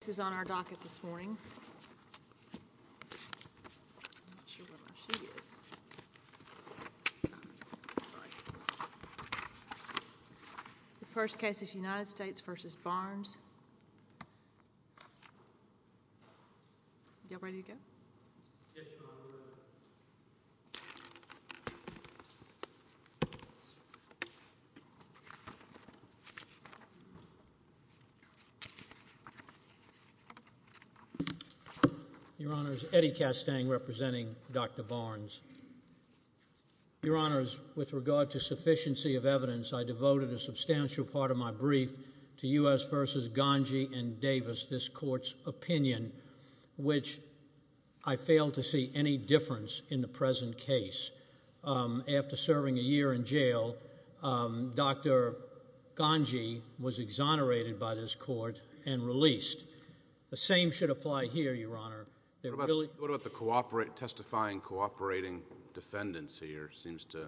This is on our docket this morning. The first case is United States v. Barnes. Your Honors, Eddie Castang, representing Dr. Barnes. Your Honors, with regard to sufficiency of evidence, I devoted a substantial part of my brief to U.S. v. Ganji and Davis, this Court's opinion, which I failed to see any difference in the present case. After serving a year in jail, Dr. Ganji was exonerated by this Court and released. The same should apply here, Your Honor. What about the testifying cooperating defendants here seems to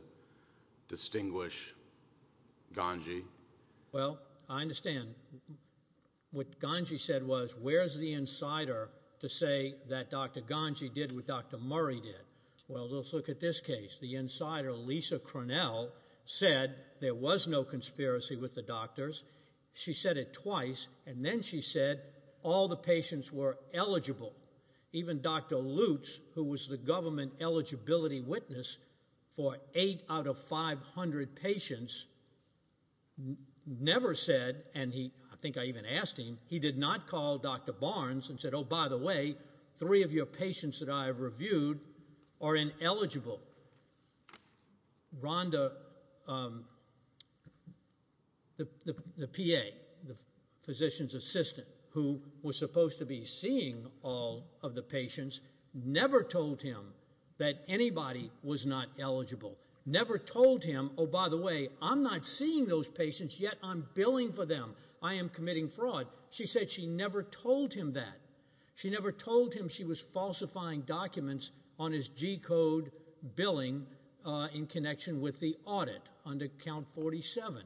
distinguish Ganji? Well, I understand. What Ganji said was, where's the insider to say that Dr. Ganji did what Dr. Murray did? Well, let's look at this case. The insider, Lisa Cornell, said there was no conspiracy with the doctors. She said it twice, and then she said all the patients were eligible. Even Dr. Lutz, who was the government eligibility witness for 8 out of 500 patients, never said, and I think I even asked him, he did not call Dr. Barnes and said, oh, by the way, three of your patients that I have reviewed are ineligible. Rhonda, the PA, the physician's assistant, who was supposed to be seeing all of the patients, never told him that anybody was not eligible. Never told him, oh, by the way, I'm not seeing those patients, yet I'm billing for them. I am committing fraud. She said she never told him that. She never told him she was falsifying documents on his G-code billing in connection with the audit under Count 47.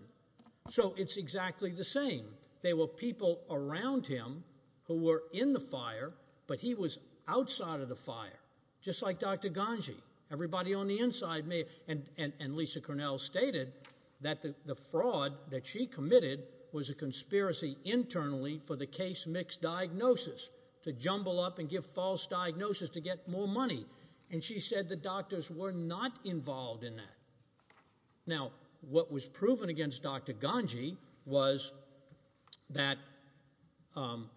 So it's exactly the same. There were people around him who were in the fire, but he was outside of the fire, just like Dr. Ganji. Everybody on the inside may, and Lisa Cornell stated that the fraud that she committed was a conspiracy internally for the case mix diagnosis, to jumble up and give false diagnosis to get more money, and she said the doctors were not involved in that. Now, what was proven against Dr. Ganji was that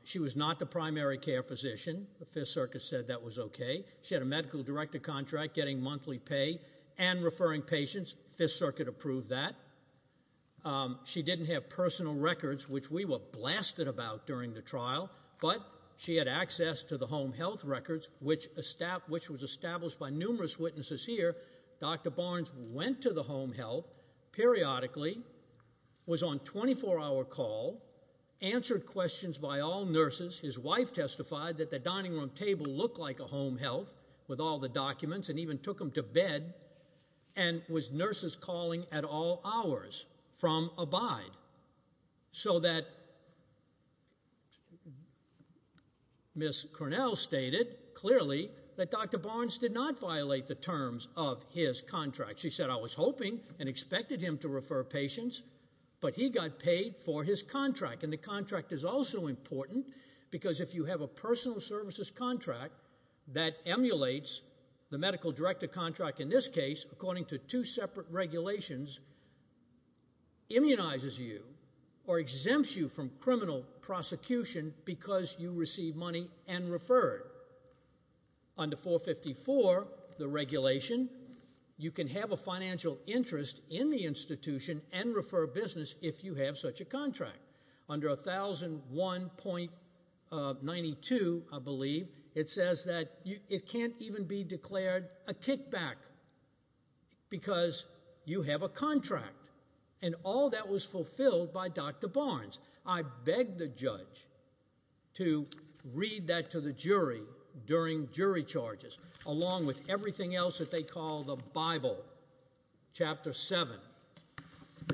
she was not the primary care physician. The Fifth Circus said that was okay. She had a medical director contract getting monthly pay and referring patients. Fifth Circuit approved that. She didn't have personal records, which we were blasted about during the trial, but she had access to the home health records, which was established by numerous witnesses here. Dr. Barnes went to the home health periodically, was on 24-hour call, answered questions by all nurses. His wife testified that the dining room table looked like a home health with all the documents and even took him to bed and was nurses calling at all hours from Abide, so that Ms. Cornell stated clearly that Dr. Barnes did not violate the terms of his contract. She said, I was hoping and expected him to refer patients, but he got paid for his contract, and the contract is also important because if you have a personal services contract, that emulates the medical director contract in this case, according to two separate regulations, immunizes you or exempts you from criminal prosecution because you received money and referred. Under 454, the regulation, you can have a financial interest in the institution and refer business if you have such a contract. Under 1001.92, I believe, it says that it can't even be declared a kickback because you have a contract, and all that was fulfilled by Dr. Barnes. I begged the judge to read that to the jury during jury charges, along with everything else that they call the Bible, Chapter 7,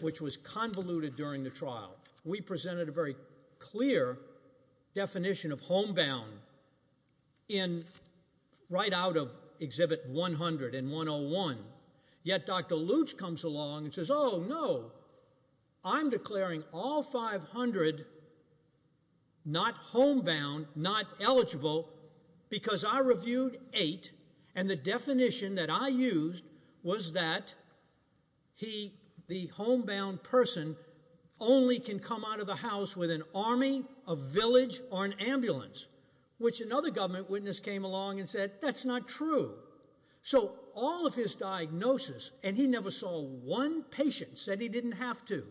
which was convoluted during the trial. We presented a very clear definition of homebound right out of Exhibit 100 and 101, yet Dr. Lutz comes along and says, oh, no, I'm declaring all 500 not homebound, not eligible, because I reviewed eight, and the definition that I used was that he, the homebound person, only can come out of the house with an army, a village, or an ambulance, which another government witness came along and said, that's not true. So all of his diagnosis, and he never saw one patient said he didn't have to.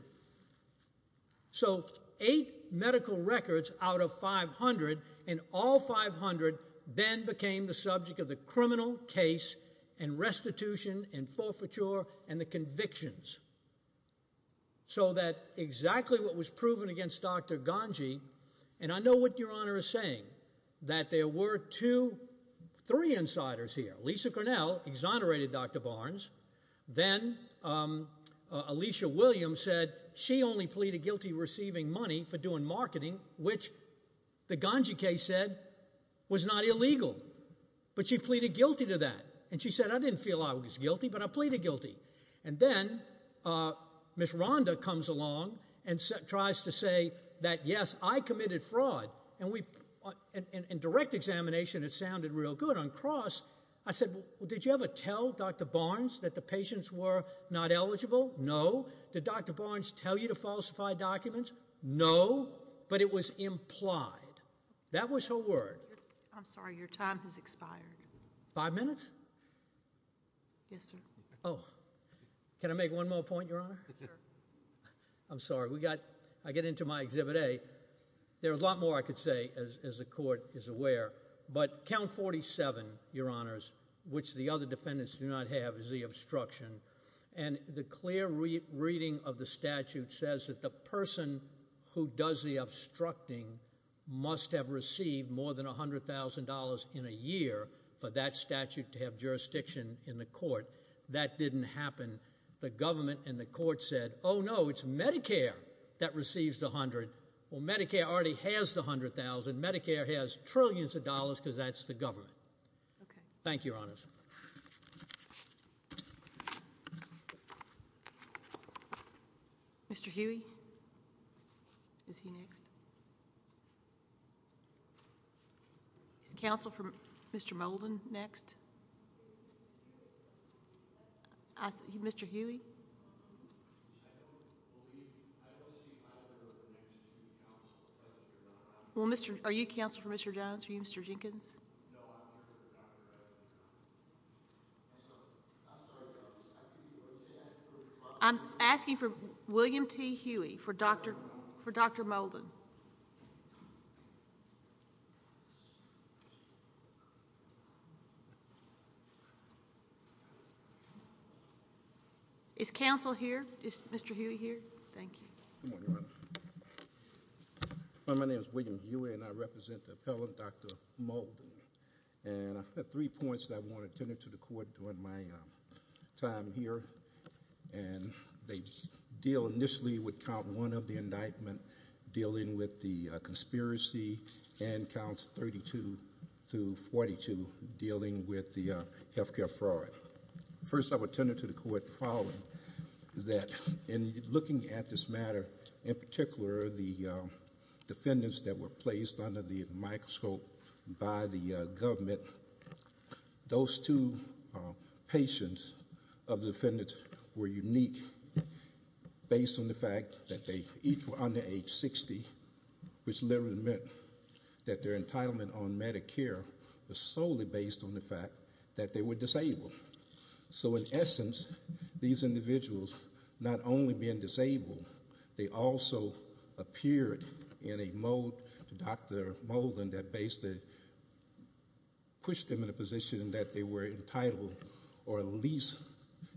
So eight medical records out of 500, and all 500 then became the subject of the criminal case and restitution and forfeiture and the convictions. So that exactly what was proven against Dr. Ganji, and I know what Your Honor is saying, that there were two, three insiders here. Lisa Grinnell exonerated Dr. Barnes. Then Alicia Williams said she only pleaded guilty receiving money for doing marketing, which the Ganji case said was not illegal, but she pleaded guilty to that. And she said, I didn't feel I was guilty, but I pleaded guilty. And then Miss Rhonda comes along and tries to say that, yes, I committed fraud, and in direct examination it sounded real good. On cross, I said, well, did you ever tell Dr. Barnes that the patients were not eligible? No. Did Dr. Barnes tell you to falsify documents? No, but it was implied. That was her word. I'm sorry. Your time has expired. Five minutes? Yes, sir. Oh. Can I make one more point, Your Honor? Sure. I'm sorry. I get into my Exhibit A. There's a lot more I could say, as the court is aware. But Count 47, Your Honors, which the other defendants do not have, is the obstruction. And the clear reading of the statute says that the person who does the obstructing must have received more than $100,000 in a year for that statute to have jurisdiction in the court. That didn't happen. The government and the court said, oh, no, it's Medicare that receives the $100,000. Well, Medicare already has the $100,000. Medicare has trillions of dollars because that's the government. Thank you, Your Honors. Mr. Huey? Is he next? Is counsel for Mr. Molden next? Mr. Huey? Well, are you counsel for Mr. Jones? Are you Mr. Jenkins? I'm asking for William T. Huey for Dr. Molden. Is counsel here? Is Mr. Huey here? Thank you. Good morning, Your Honor. My name is William Huey, and I represent the appellant, Dr. Molden. And I have three points that I want to tender to the court during my time here. And they deal initially with count one of the indictment dealing with the conspiracy and counts 32 through 42 dealing with the health care fraud. First, I would tender to the court the following, that in looking at this matter, in particular the defendants that were placed under the microscope by the government, those two patients of the defendants were unique based on the fact that they each were under age 60, which literally meant that their entitlement on Medicare was solely based on the fact that they were disabled. So in essence, these individuals not only being disabled, they also appeared in a mode to Dr. Molden that basically pushed them in a position that they were entitled or at least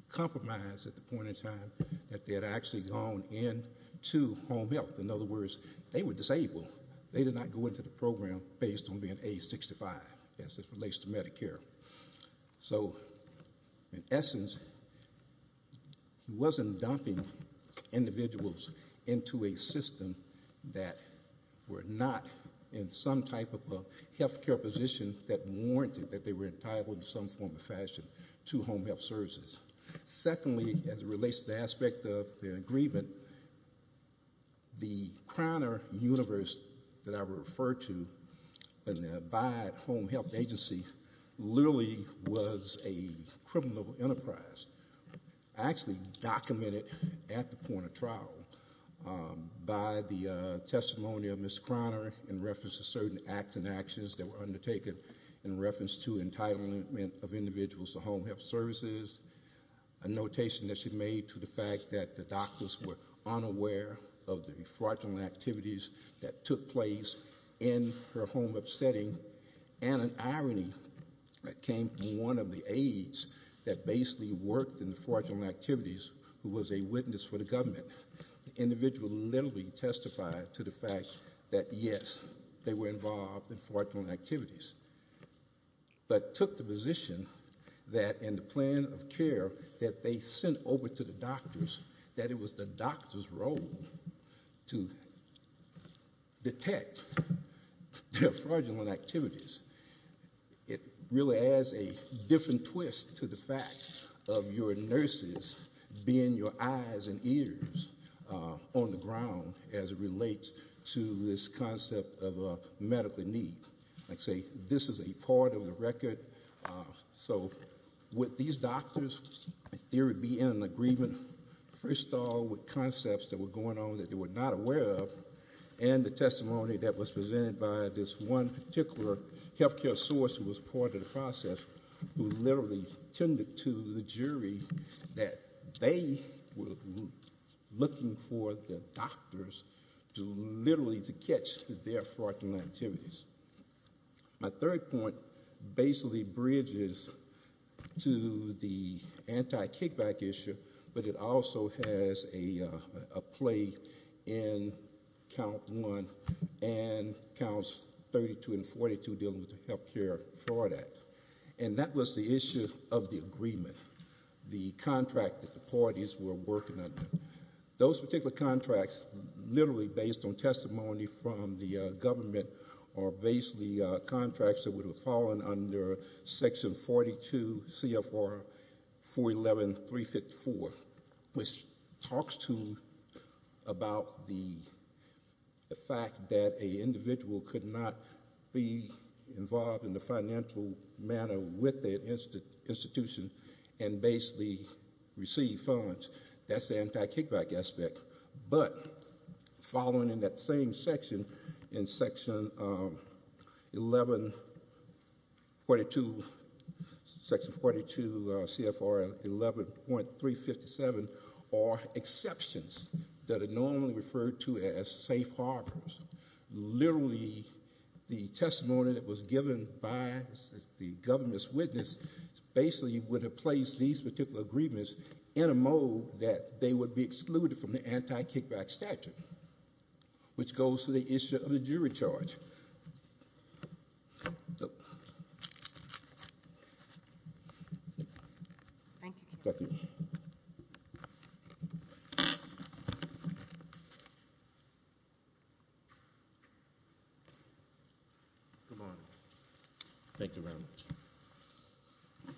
compromised at the point in time that they had actually gone into home health. In other words, they were disabled. They did not go into the program based on being age 65 as this relates to Medicare. So in essence, he wasn't dumping individuals into a system that were not in some type of health care position that warranted that they were entitled in some form or fashion to home health services. Secondly, as it relates to the aspect of their agreement, the Croner universe that I referred to and the Bayard Home Health Agency literally was a criminal enterprise, actually documented at the point of trial by the testimony of Ms. Croner in reference to certain acts and actions that were undertaken in reference to entitlement of individuals to home health services, a notation that she made to the fact that the doctors were unaware of the fraudulent activities that took place in her home upsetting and an irony that came from one of the aides that basically worked in the fraudulent activities who was a witness for the government. The individual literally testified to the fact that yes, they were involved in fraudulent activities but took the position that in the plan of care that they sent over to the doctors, that it was the doctor's role to detect their fraudulent activities. It really adds a different twist to the fact of your nurses being your eyes and ears on the ground as it relates to this concept of a medical need. Like I say, this is a part of the record. So would these doctors, in theory, be in an agreement? First of all, with concepts that were going on that they were not aware of and the testimony that was presented by this one particular health care source who was part of the process who literally tended to the jury that they were looking for the doctors to literally catch their fraudulent activities. My third point basically bridges to the anti-kickback issue, but it also has a play in Count 1 and Counts 32 and 42 dealing with the Health Care Fraud Act. That was the issue of the agreement, the contract that the parties were working under. Those particular contracts literally based on testimony from the government are basically contracts that would have fallen under Section 42 CFR 411.354, which talks about the fact that an individual could not be involved in a financial manner with their institution and basically receive funds. That's the anti-kickback aspect. But following in that same section, in Section 42 CFR 11.357, are exceptions that are normally referred to as safe harbors. Literally the testimony that was given by the government's witness basically would have placed these particular agreements in a mode that they would be excluded from the anti-kickback statute, which goes to the issue of the jury charge.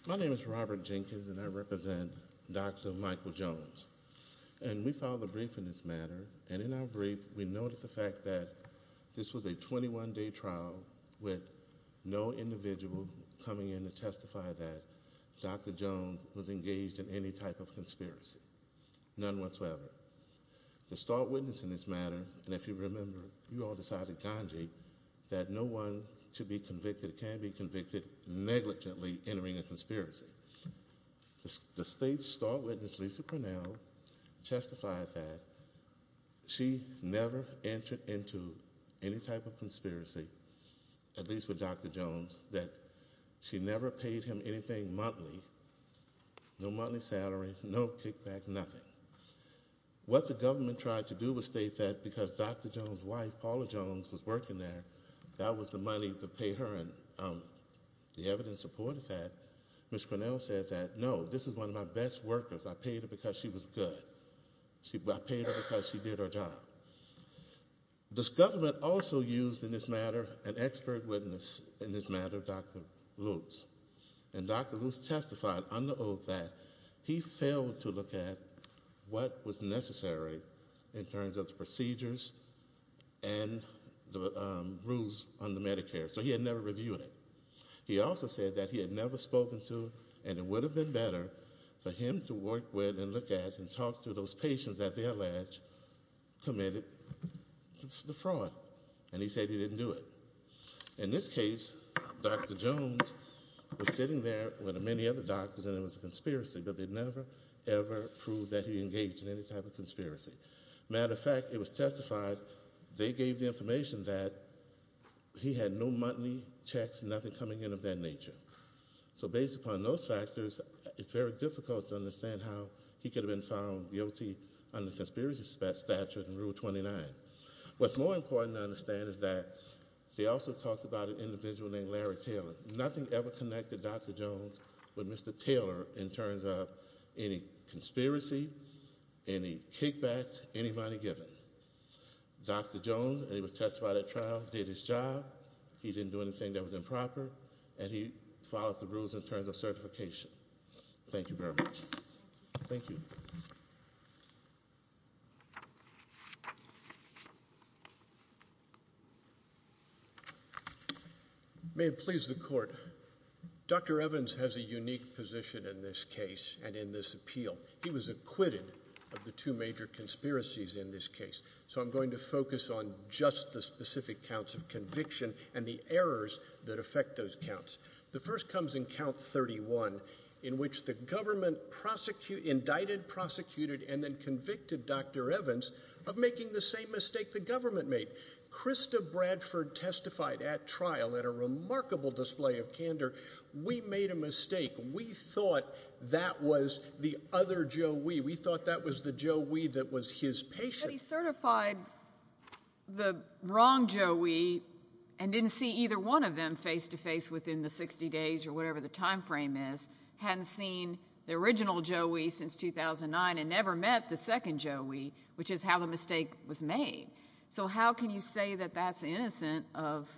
My name is Robert Jenkins, and I represent Dr. Michael Jones. We filed a brief in this matter, and in our brief we noted the fact that this was a 21-day trial with no individual coming in to testify that Dr. Jones was engaged in any type of conspiracy. None whatsoever. The start witness in this matter, and if you remember, you all decided, Ganji, that no one should be convicted or can be convicted negligently entering a conspiracy. The state's start witness, Lisa Purnell, testified that she never entered into any type of conspiracy, at least with Dr. Jones, that she never paid him anything monthly, no monthly salary, no kickback, nothing. What the government tried to do was state that because Dr. Jones' wife, Paula Jones, was working there, that was the money to pay her, and the evidence supported that. Ms. Purnell said that, no, this is one of my best workers. I paid her because she was good. I paid her because she did her job. This government also used in this matter an expert witness in this matter, Dr. Lutz, and Dr. Lutz testified under oath that he failed to look at what was necessary in terms of the procedures and the rules under Medicare, so he had never reviewed it. He also said that he had never spoken to, and it would have been better for him to work with and look at and talk to those patients that they alleged committed the fraud, and he said he didn't do it. In this case, Dr. Jones was sitting there with many other doctors, and it was a conspiracy, but they never, ever proved that he engaged in any type of conspiracy. Matter of fact, it was testified, they gave the information that he had no monthly checks, nothing coming in of that nature. So based upon those factors, it's very difficult to understand how he could have been found guilty under conspiracy statute and Rule 29. What's more important to understand is that they also talked about an individual named Larry Taylor. Nothing ever connected Dr. Jones with Mr. Taylor in terms of any conspiracy, any kickbacks, any money given. Dr. Jones, and he was testified at trial, did his job. He didn't do anything that was improper, and he followed the rules in terms of certification. Thank you very much. Thank you. May it please the Court. Dr. Evans has a unique position in this case and in this appeal. He was acquitted of the two major conspiracies in this case, so I'm going to focus on just the specific counts of conviction and the errors that affect those counts. The first comes in Count 31, in which the government indicted, prosecuted, and then convicted Dr. Evans of making the same mistake the government made. Krista Bradford testified at trial in a remarkable display of candor. We made a mistake. We thought that was the other Joe Wee. We thought that was the Joe Wee that was his patient. But he certified the wrong Joe Wee and didn't see either one of them face-to-face within the 60 days or whatever the time frame is, hadn't seen the original Joe Wee since 2009, and never met the second Joe Wee, which is how the mistake was made. So how can you say that that's innocent of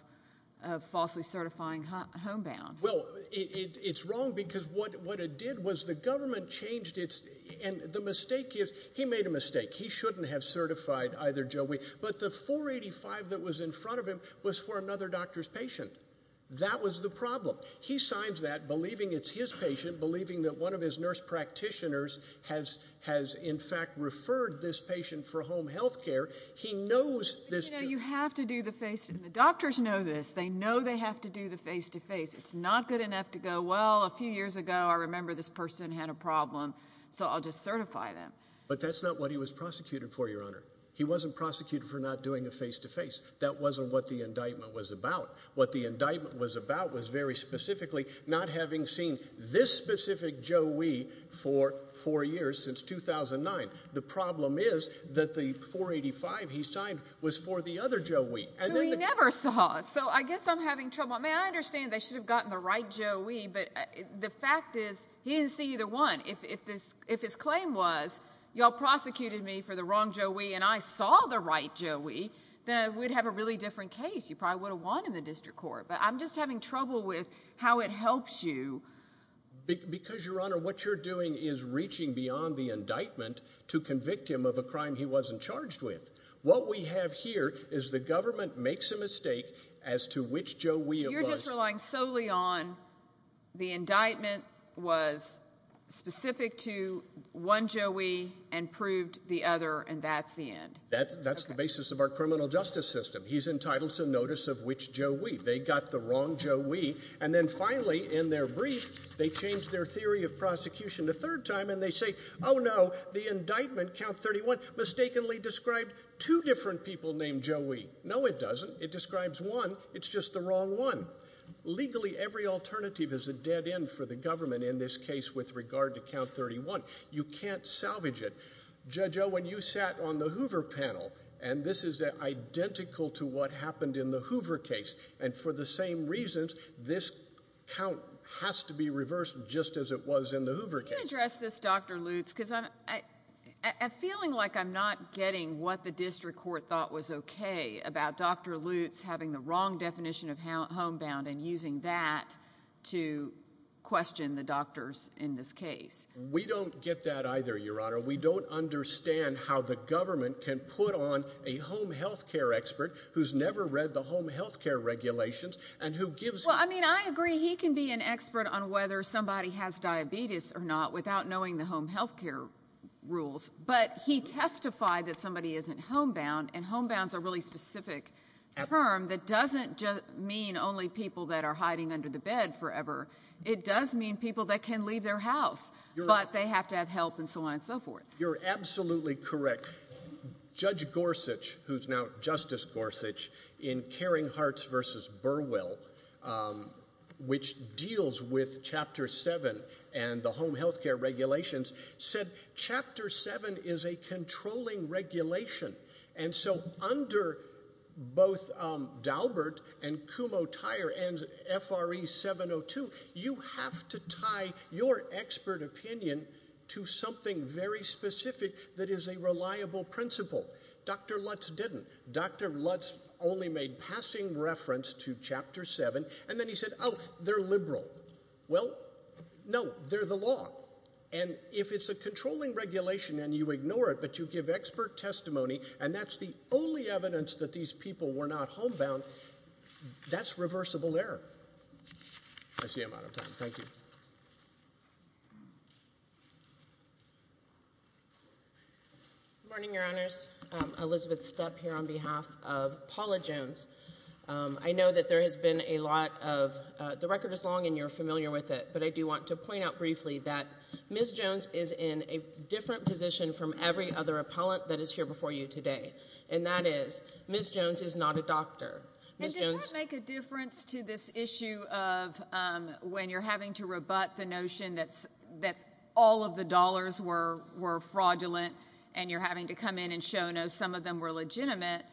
falsely certifying homebound? Well, it's wrong because what it did was the government changed its and the mistake is he made a mistake. He shouldn't have certified either Joe Wee, but the 485 that was in front of him was for another doctor's patient. That was the problem. He signs that believing it's his patient, believing that one of his nurse practitioners has in fact referred this patient for home health care. He knows this. You have to do the face-to-face. The doctors know this. They know they have to do the face-to-face. It's not good enough to go, well, a few years ago I remember this person had a problem, so I'll just certify them. But that's not what he was prosecuted for, Your Honor. He wasn't prosecuted for not doing a face-to-face. That wasn't what the indictment was about. What the indictment was about was very specifically not having seen this specific Joe Wee for four years since 2009. The problem is that the 485 he signed was for the other Joe Wee. But he never saw it, so I guess I'm having trouble. I mean, I understand they should have gotten the right Joe Wee, but the fact is he didn't see either one. If his claim was you all prosecuted me for the wrong Joe Wee and I saw the right Joe Wee, then we'd have a really different case. You probably would have won in the district court. But I'm just having trouble with how it helps you. Because, Your Honor, what you're doing is reaching beyond the indictment to convict him of a crime he wasn't charged with. What we have here is the government makes a mistake as to which Joe Wee it was. You're just relying solely on the indictment was specific to one Joe Wee and proved the other, and that's the end. That's the basis of our criminal justice system. He's entitled to notice of which Joe Wee. They got the wrong Joe Wee, and then finally, in their brief, they change their theory of prosecution a third time, and they say, Oh, no, the indictment, Count 31, mistakenly described two different people named Joe Wee. No, it doesn't. It describes one. It's just the wrong one. Legally, every alternative is a dead end for the government in this case with regard to Count 31. You can't salvage it. Judge Owen, you sat on the Hoover panel, and this is identical to what happened in the Hoover case, and for the same reasons, this count has to be reversed just as it was in the Hoover case. Let me address this, Dr. Lutz, because I'm feeling like I'm not getting what the district court thought was okay about Dr. Lutz having the wrong definition of homebound and using that to question the doctors in this case. We don't get that either, Your Honor. We don't understand how the government can put on a home health care expert who's never read the home health care regulations and who gives them. Well, I mean, I agree he can be an expert on whether somebody has diabetes or not without knowing the home health care rules, but he testified that somebody isn't homebound, and homebound's a really specific term that doesn't mean only people that are hiding under the bed forever. It does mean people that can leave their house, but they have to have help and so on and so forth. You're absolutely correct. Judge Gorsuch, who's now Justice Gorsuch, in Caring Hearts v. Burwell, which deals with Chapter 7 and the home health care regulations, said Chapter 7 is a controlling regulation, and so under both Daubert and Kumho-Tyre and FRE 702, you have to tie your expert opinion to something very specific that is a reliable principle. Dr. Lutz didn't. Dr. Lutz only made passing reference to Chapter 7, and then he said, oh, they're liberal. Well, no, they're the law, and if it's a controlling regulation and you ignore it but you give expert testimony and that's the only evidence that these people were not homebound, that's reversible error. I see I'm out of time. Thank you. Good morning, Your Honors. Elizabeth Stepp here on behalf of Paula Jones. I know that there has been a lot of the record is long and you're familiar with it, but I do want to point out briefly that Ms. Jones is in a different position from every other appellant that is here before you today, and that is Ms. Jones is not a doctor. And does that make a difference to this issue of when you're having to rebut the notion that all of the dollars were fraudulent and you're having to come in and show, no, some of them were legitimate?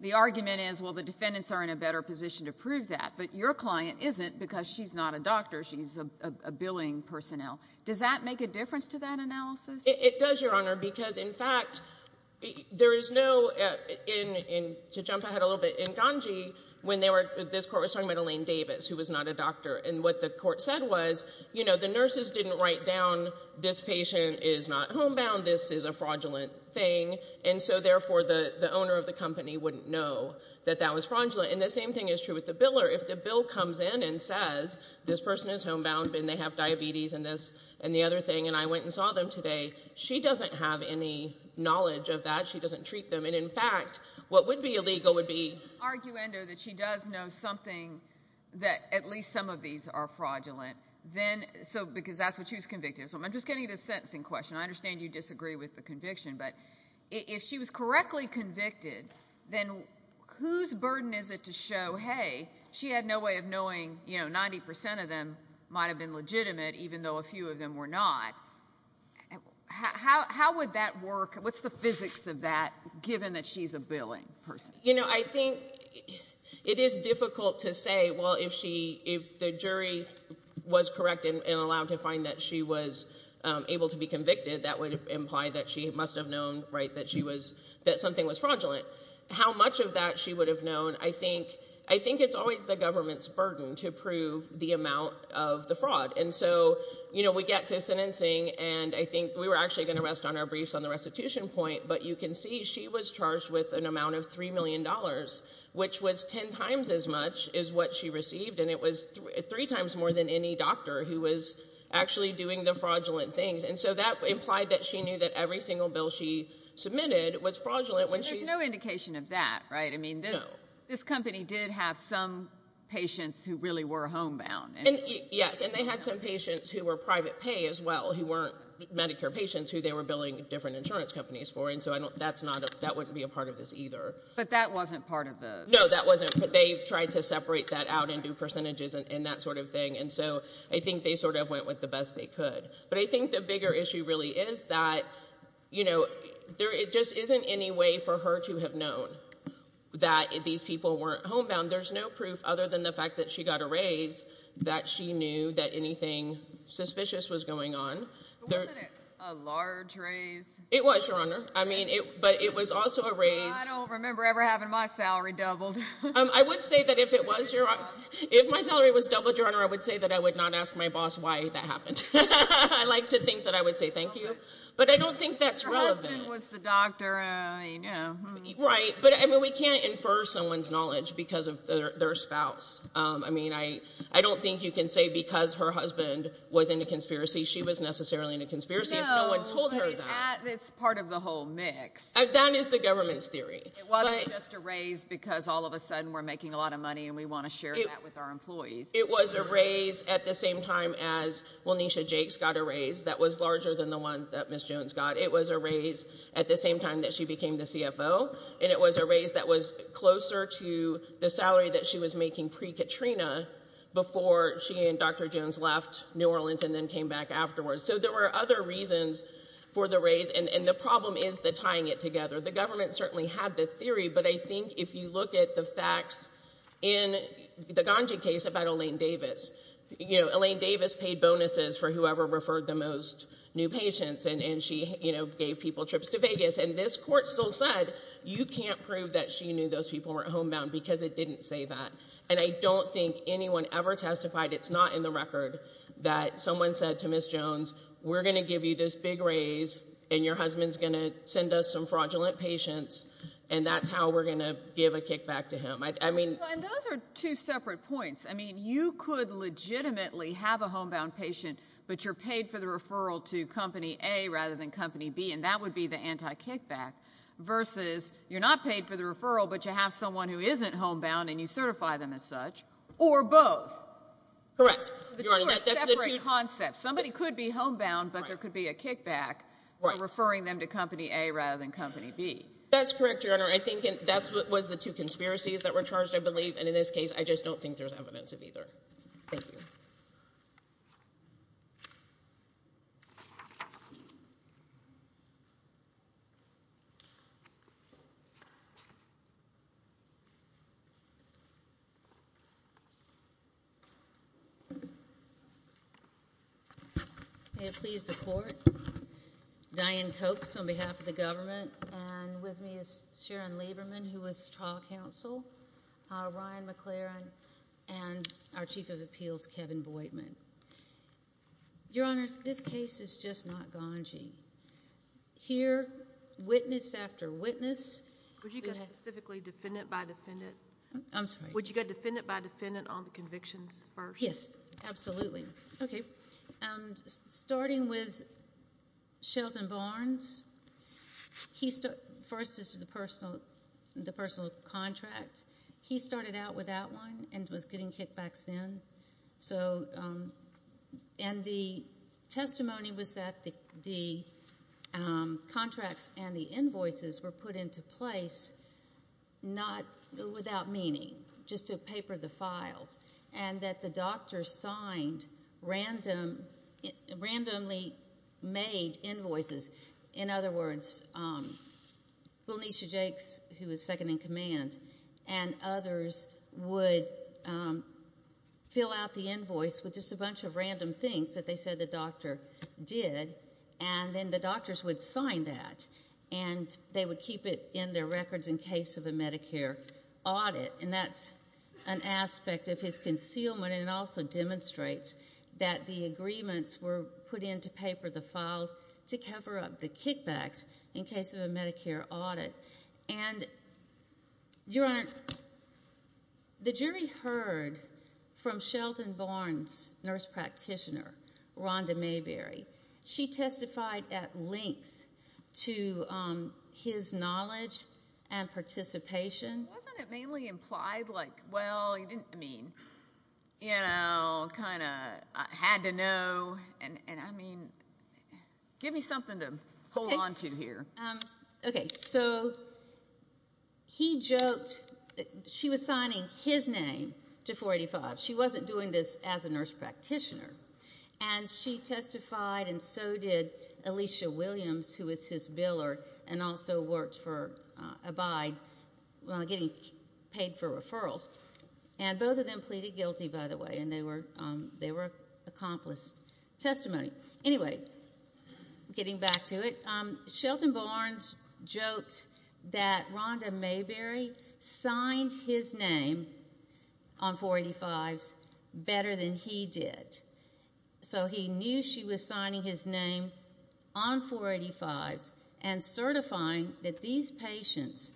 The argument is, well, the defendants are in a better position to prove that, but your client isn't because she's not a doctor. She's a billing personnel. Does that make a difference to that analysis? It does, Your Honor, because, in fact, there is no, to jump ahead a little bit, in Ganji when this court was talking about Elaine Davis, who was not a doctor, and what the court said was, you know, the nurses didn't write down this patient is not homebound, this is a fraudulent thing, and so, therefore, the owner of the company wouldn't know that that was fraudulent. And the same thing is true with the biller. If the bill comes in and says, this person is homebound and they have diabetes and this and the other thing, and I went and saw them today, she doesn't have any knowledge of that. She doesn't treat them. And, in fact, what would be illegal would be the argument that she does know something that at least some of these are fraudulent, because that's what she was convicted of. So I'm just getting to the sentencing question. I understand you disagree with the conviction. But if she was correctly convicted, then whose burden is it to show, hey, she had no way of knowing, you know, 90% of them might have been legitimate, even though a few of them were not. How would that work? What's the physics of that, given that she's a billing person? You know, I think it is difficult to say, well, if the jury was correct and allowed to find that she was able to be convicted, that would imply that she must have known, right, that she was ‑‑ that something was fraudulent. How much of that she would have known, I think it's always the government's burden to prove the amount of the fraud. And so, you know, we get to sentencing, and I think we were actually going to rest on our briefs on the restitution point, but you can see she was charged with an amount of $3 million, which was ten times as much as what she received, and it was three times more than any doctor who was actually doing the fraudulent things. And so that implied that she knew that every single bill she submitted was fraudulent. There's no indication of that, right? No. I mean, this company did have some patients who really were homebound. Yes, and they had some patients who were private pay as well, who weren't Medicare patients, who they were billing different insurance companies for, and so that wouldn't be a part of this either. But that wasn't part of the ‑‑ No, that wasn't. They tried to separate that out and do percentages and that sort of thing, and so I think they sort of went with the best they could. But I think the bigger issue really is that, you know, there just isn't any way for her to have known that these people weren't homebound. There's no proof other than the fact that she got a raise that she knew that anything suspicious was going on. But wasn't it a large raise? I mean, but it was also a raise. Well, I don't remember ever having my salary doubled. I would say that if it was your ‑‑ if my salary was doubled, Your Honor, I would say that I would not ask my boss why that happened. I like to think that I would say thank you, but I don't think that's relevant. Her husband was the doctor, you know. Right, but, I mean, we can't infer someone's knowledge because of their spouse. I mean, I don't think you can say because her husband was in a conspiracy, she was necessarily in a conspiracy if no one told her that. No, but it's part of the whole mix. That is the government's theory. It wasn't just a raise because all of a sudden we're making a lot of money and we want to share that with our employees. It was a raise at the same time as Welnesha Jakes got a raise that was larger than the one that Ms. Jones got. It was a raise at the same time that she became the CFO, and it was a raise that was closer to the salary that she was making pre-Katrina before she and Dr. Jones left New Orleans and then came back afterwards. So there were other reasons for the raise, and the problem is the tying it together. The government certainly had the theory, but I think if you look at the facts in the Ganji case about Elaine Davis, you know, Elaine Davis paid bonuses for whoever referred the most new patients and she, you know, gave people trips to Vegas, and this court still said you can't prove that she knew those people were homebound because it didn't say that. Someone said to Ms. Jones, we're going to give you this big raise and your husband's going to send us some fraudulent patients, and that's how we're going to give a kickback to him. Those are two separate points. I mean, you could legitimately have a homebound patient, but you're paid for the referral to Company A rather than Company B, and that would be the anti-kickback versus you're not paid for the referral but you have someone who isn't homebound and you certify them as such, or both. Correct. The two are separate concepts. Somebody could be homebound, but there could be a kickback for referring them to Company A rather than Company B. That's correct, Your Honor. I think that was the two conspiracies that were charged, I believe, and in this case I just don't think there's evidence of either. Thank you. May it please the Court. Diane Copes on behalf of the government, and with me is Sharon Lieberman who is trial counsel, Ryan McLaren, and our Chief of Appeals, Kevin Boydman. Your Honors, this case is just not gonging. Here, witness after witness. Would you go specifically defendant by defendant? I'm sorry. Would you go defendant by defendant on the convictions first? Yes, absolutely. Okay. Starting with Shelton Barnes, first is the personal contract. He started out without one and was getting kickbacks then, and the testimony was that the contracts and the invoices were put into place without meaning, just to paper the files, and that the doctors signed randomly-made invoices. In other words, Elenicia Jakes, who was second-in-command, and others would fill out the invoice with just a bunch of random things that they said the doctor did, and then the doctors would sign that and they would keep it in their records in case of a Medicare audit, and that's an aspect of his concealment, and it also demonstrates that the agreements were put into paper, the file, to cover up the kickbacks in case of a Medicare audit. And, Your Honor, the jury heard from Shelton Barnes' nurse practitioner, Rhonda Mayberry. She testified at length to his knowledge and participation. Wasn't it mainly implied, like, well, you didn't, I mean, you know, kind of had to know, and, I mean, give me something to hold onto here. Okay. So he joked that she was signing his name to 485. She wasn't doing this as a nurse practitioner, and she testified, and so did Alicia Williams, who was his biller and also worked for Abide while getting paid for referrals, and both of them pleaded guilty, by the way, and they were accomplished testimony. Anyway, getting back to it, Shelton Barnes joked that Rhonda Mayberry signed his name on 485s better than he did. So he knew she was signing his name on 485s and certifying that these patients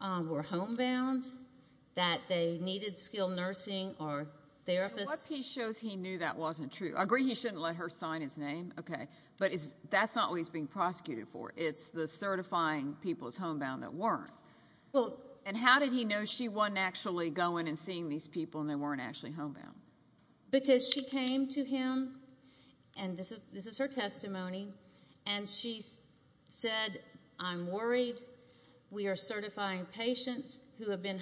were homebound, that they needed skilled nursing or therapists. What piece shows he knew that wasn't true? I agree he shouldn't let her sign his name, okay, but that's not what he's being prosecuted for. It's the certifying people as homebound that weren't. And how did he know she wasn't actually going and seeing these people and they weren't actually homebound? Because she came to him, and this is her testimony, and she said, I'm worried. We are certifying patients who have been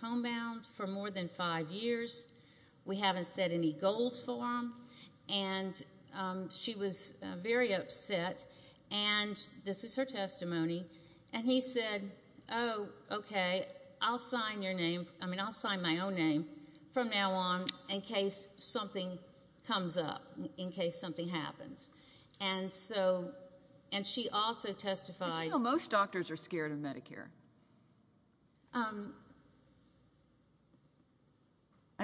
homebound for more than five years. We haven't set any goals for them. And she was very upset, and this is her testimony, and he said, oh, okay, I'll sign your name. I mean, I'll sign my own name from now on in case something comes up, in case something happens. And so she also testified. How do you know most doctors are scared of Medicare? I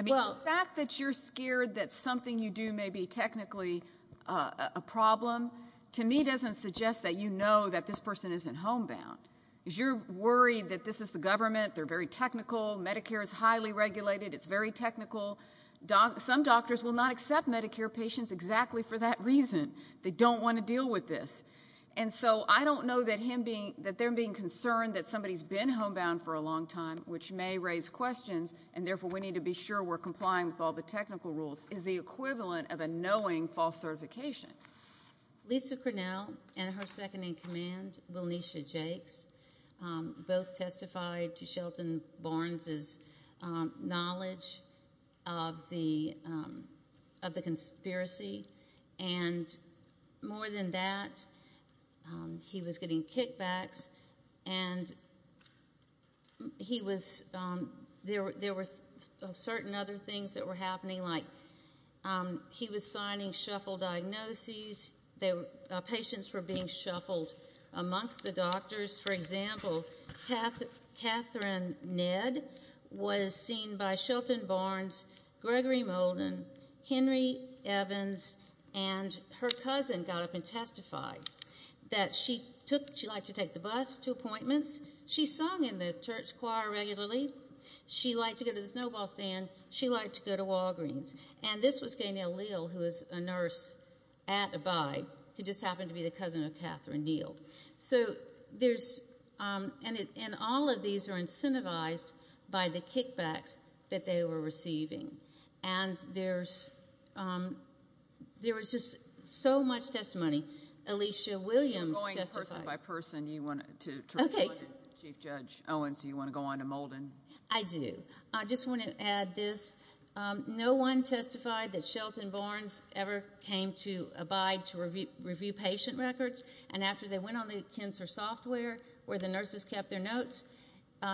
mean, the fact that you're scared that something you do may be technically a problem, to me, doesn't suggest that you know that this person isn't homebound. Because you're worried that this is the government, they're very technical, Medicare is highly regulated, it's very technical. Some doctors will not accept Medicare patients exactly for that reason. They don't want to deal with this. And so I don't know that them being concerned that somebody's been homebound for a long time, which may raise questions, and therefore we need to be sure we're complying with all the technical rules, is the equivalent of a knowing false certification. Lisa Cornell and her second-in-command, Wilnesha Jakes, both testified to Shelton Barnes's knowledge of the conspiracy. And more than that, he was getting kickbacks, and there were certain other things that were happening, like he was signing shuffle diagnoses, patients were being shuffled amongst the doctors. For example, Catherine Ned was seen by Shelton Barnes, Gregory Molden, Henry Evans, and her cousin got up and testified that she liked to take the bus to appointments, she sung in the church choir regularly, she liked to go to the snowball stand, she liked to go to Walgreens. And this was Gaynelle Leal, who was a nurse at Abide, who just happened to be the cousin of Catherine Neal. And all of these are incentivized by the kickbacks that they were receiving. And there was just so much testimony. Alicia Williams testified. Chief Judge Owens, do you want to go on to Molden? I do. I just want to add this. No one testified that Shelton Barnes ever came to Abide to review patient records, and after they went on the Kinzer software, where the nurses kept their notes,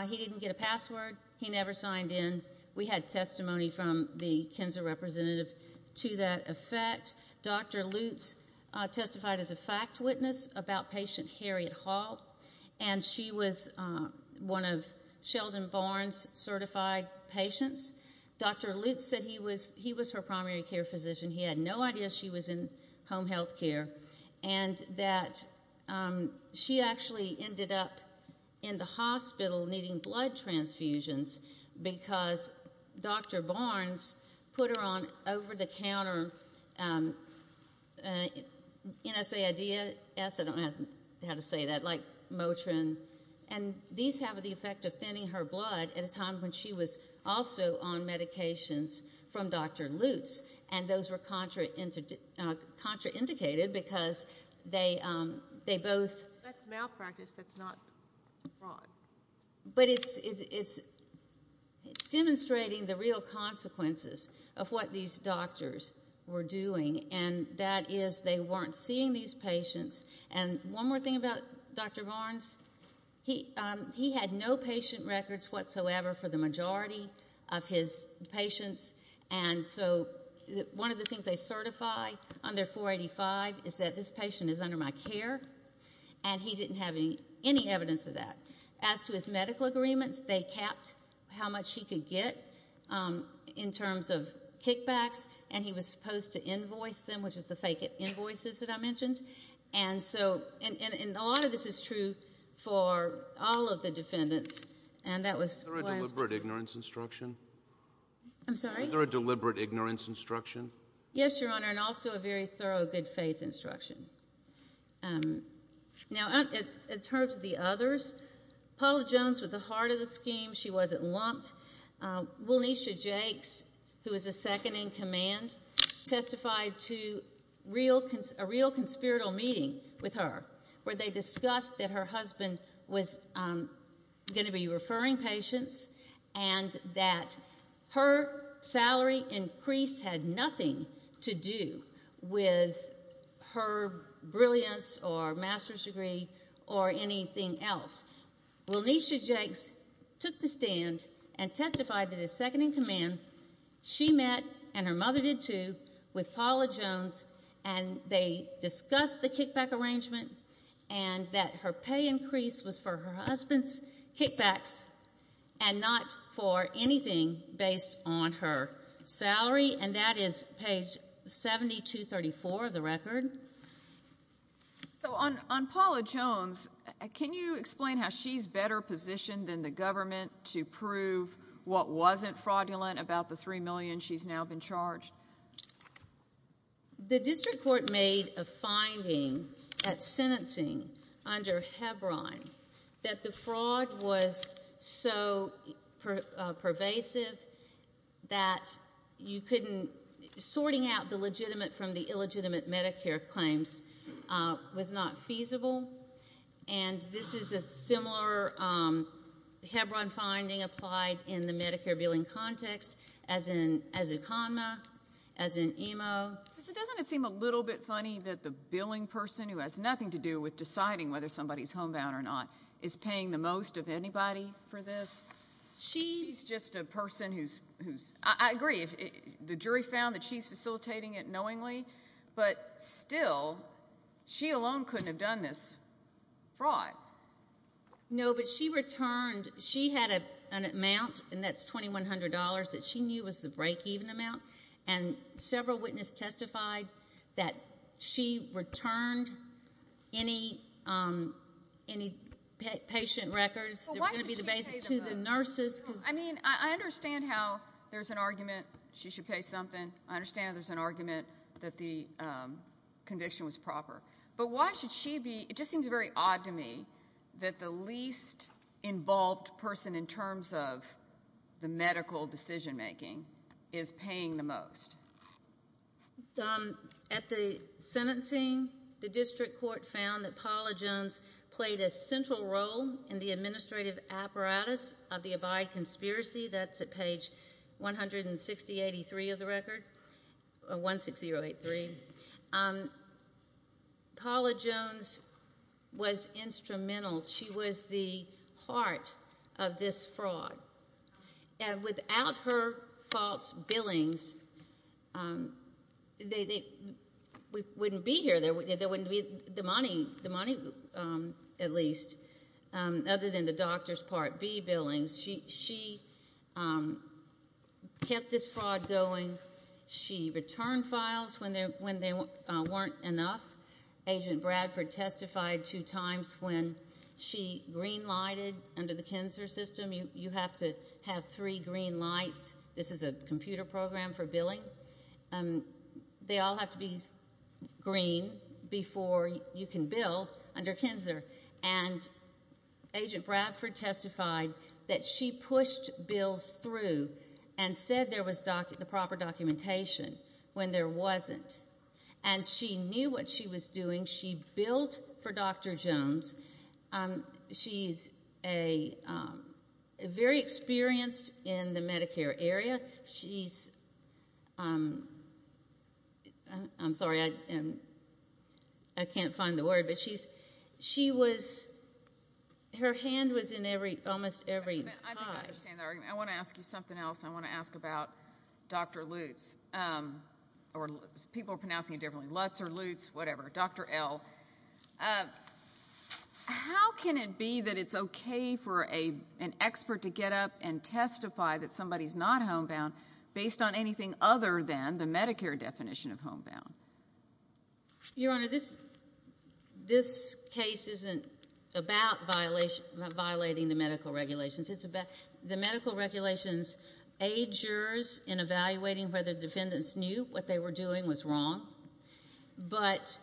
he didn't get a password, he never signed in. We had testimony from the Kinzer representative to that effect. Dr. Lutz testified as a fact witness about patient Harriet Hall, and she was one of Sheldon Barnes' certified patients. Dr. Lutz said he was her primary care physician, he had no idea she was in home health care, and that she actually ended up in the hospital needing blood transfusions because Dr. Barnes put her on over-the-counter NSAIDs, I don't know how to say that, like Motrin, and these have the effect of thinning her blood at a time when she was also on medications from Dr. Lutz, and those were contraindicated because they both. That's malpractice, that's not fraud. But it's demonstrating the real consequences of what these doctors were doing, and that is they weren't seeing these patients. And one more thing about Dr. Barnes, he had no patient records whatsoever for the majority of his patients, and so one of the things they certify under 485 is that this patient is under my care, and he didn't have any evidence of that. As to his medical agreements, they capped how much he could get in terms of kickbacks, and he was supposed to invoice them, which is the fake invoices that I mentioned. And so a lot of this is true for all of the defendants, and that was why. Was there a deliberate ignorance instruction? I'm sorry? Was there a deliberate ignorance instruction? Yes, Your Honor, and also a very thorough good-faith instruction. Now, in terms of the others, Paula Jones was the heart of the scheme. She wasn't lumped. Wilnesha Jakes, who was a second-in-command, testified to a real conspiratorial meeting with her where they discussed that her husband was going to be referring patients and that her salary increase had nothing to do with her brilliance or master's degree or anything else. Wilnesha Jakes took the stand and testified that as second-in-command, she met, and her mother did too, with Paula Jones, and they discussed the kickback arrangement and that her pay increase was for her husband's kickbacks and not for anything based on her salary, and that is page 7234 of the record. So on Paula Jones, can you explain how she's better positioned than the government to prove what wasn't fraudulent about the $3 million she's now been charged? The district court made a finding at sentencing under Hebron that the fraud was so pervasive that you couldn't ‑‑ sorting out the legitimate from the illegitimate Medicare claims was not feasible, and this is a similar Hebron finding applied in the Medicare billing context as a conma, as an emo. Doesn't it seem a little bit funny that the billing person, who has nothing to do with deciding whether somebody's homebound or not, is paying the most of anybody for this? She's just a person who's ‑‑ I agree, the jury found that she's facilitating it knowingly, but still, she alone couldn't have done this fraud. No, but she returned. She had an amount, and that's $2,100 that she knew was the breakeven amount, and several witnesses testified that she returned any patient records that were going to be the basis to the nurses. I mean, I understand how there's an argument she should pay something. I understand there's an argument that the conviction was proper, but why should she be ‑‑ it just seems very odd to me that the least involved person in terms of the medical decision‑making is paying the most. At the sentencing, the district court found that Paula Jones played a central role in the administrative apparatus of the Abide Conspiracy. That's at page 16083 of the record, 16083. Paula Jones was instrumental. She was the heart of this fraud, and without her false billings, they wouldn't be here. There wouldn't be the money, at least, other than the doctor's Part B billings. She kept this fraud going. She returned files when they weren't enough. Agent Bradford testified two times when she green‑lighted under the cancer system. You have to have three green lights. This is a computer program for billing. They all have to be green before you can bill under cancer. And Agent Bradford testified that she pushed bills through and said there was the proper documentation when there wasn't. And she knew what she was doing. She billed for Dr. Jones. She's very experienced in the Medicare area. She's ‑‑ I'm sorry, I can't find the word. But she was ‑‑ her hand was in almost every pie. I want to ask you something else. I want to ask about Dr. Lutz. People are pronouncing it differently. Lutz or Lutz, whatever. Dr. L. How can it be that it's okay for an expert to get up and testify that somebody is not homebound based on anything other than the Medicare definition of homebound? Your Honor, this case isn't about violating the medical regulations. It's about the medical regulations aid jurors in evaluating whether defendants knew what they were doing was wrong. But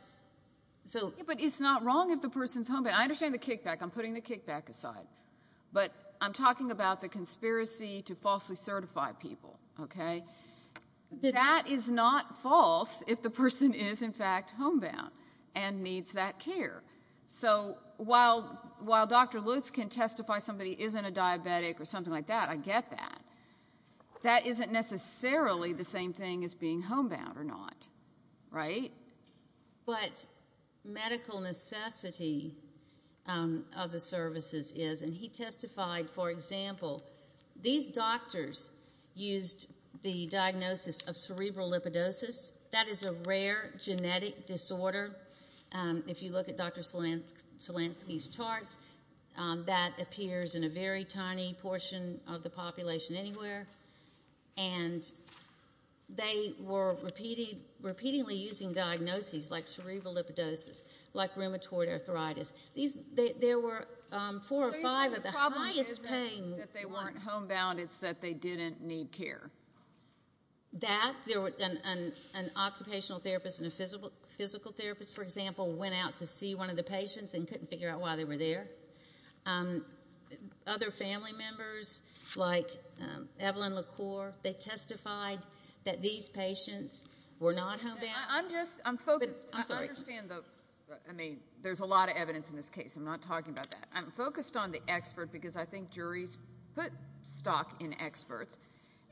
it's not wrong if the person is homebound. I understand the kickback. I'm putting the kickback aside. But I'm talking about the conspiracy to falsely certify people. Okay? That is not false if the person is, in fact, homebound and needs that care. So while Dr. Lutz can testify somebody isn't a diabetic or something like that, I get that, that isn't necessarily the same thing as being homebound or not. Right? But medical necessity of the services is, and he testified, for example, these doctors used the diagnosis of cerebral lipidosis. That is a rare genetic disorder. If you look at Dr. Slansky's charts, that appears in a very tiny portion of the population anywhere. And they were repeatedly using diagnoses like cerebral lipidosis, like rheumatoid arthritis. There were four or five of the highest pain. The problem isn't that they weren't homebound. It's that they didn't need care. That, an occupational therapist and a physical therapist, for example, went out to see one of the patients and couldn't figure out why they were there. Other family members, like Evelyn LaCour, they testified that these patients were not homebound. I'm just, I'm focused. I understand the, I mean, there's a lot of evidence in this case. I'm not talking about that. I'm focused on the expert because I think juries put stock in experts,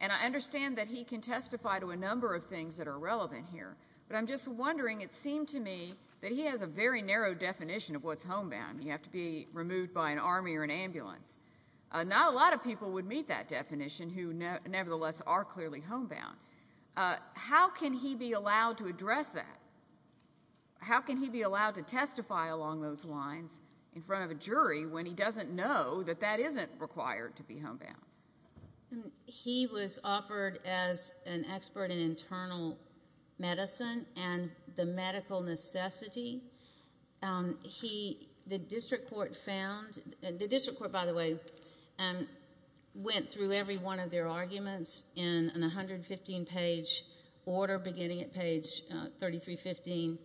and I understand that he can testify to a number of things that are relevant here, but I'm just wondering, it seemed to me that he has a very narrow definition of what's homebound. You have to be removed by an army or an ambulance. Not a lot of people would meet that definition who nevertheless are clearly homebound. How can he be allowed to address that? How can he be allowed to testify along those lines in front of a jury when he doesn't know that that isn't required to be homebound? He was offered as an expert in internal medicine and the medical necessity. The district court found, the district court, by the way, went through every one of their arguments in a 115-page order beginning at page 3315,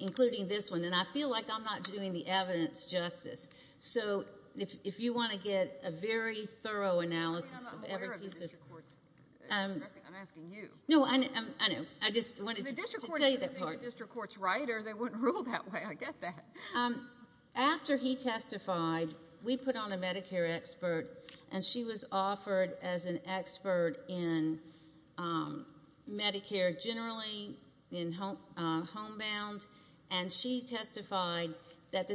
including this one, and I feel like I'm not doing the evidence justice. So if you want to get a very thorough analysis of every piece of it. I'm not aware of the district court's addressing. I'm asking you. No, I know. I just wanted to tell you that part. The district court is going to be a district court's writer. They wouldn't rule that way. I get that. After he testified, we put on a Medicare expert, and she was offered as an expert in Medicare generally, in homebound, and she testified that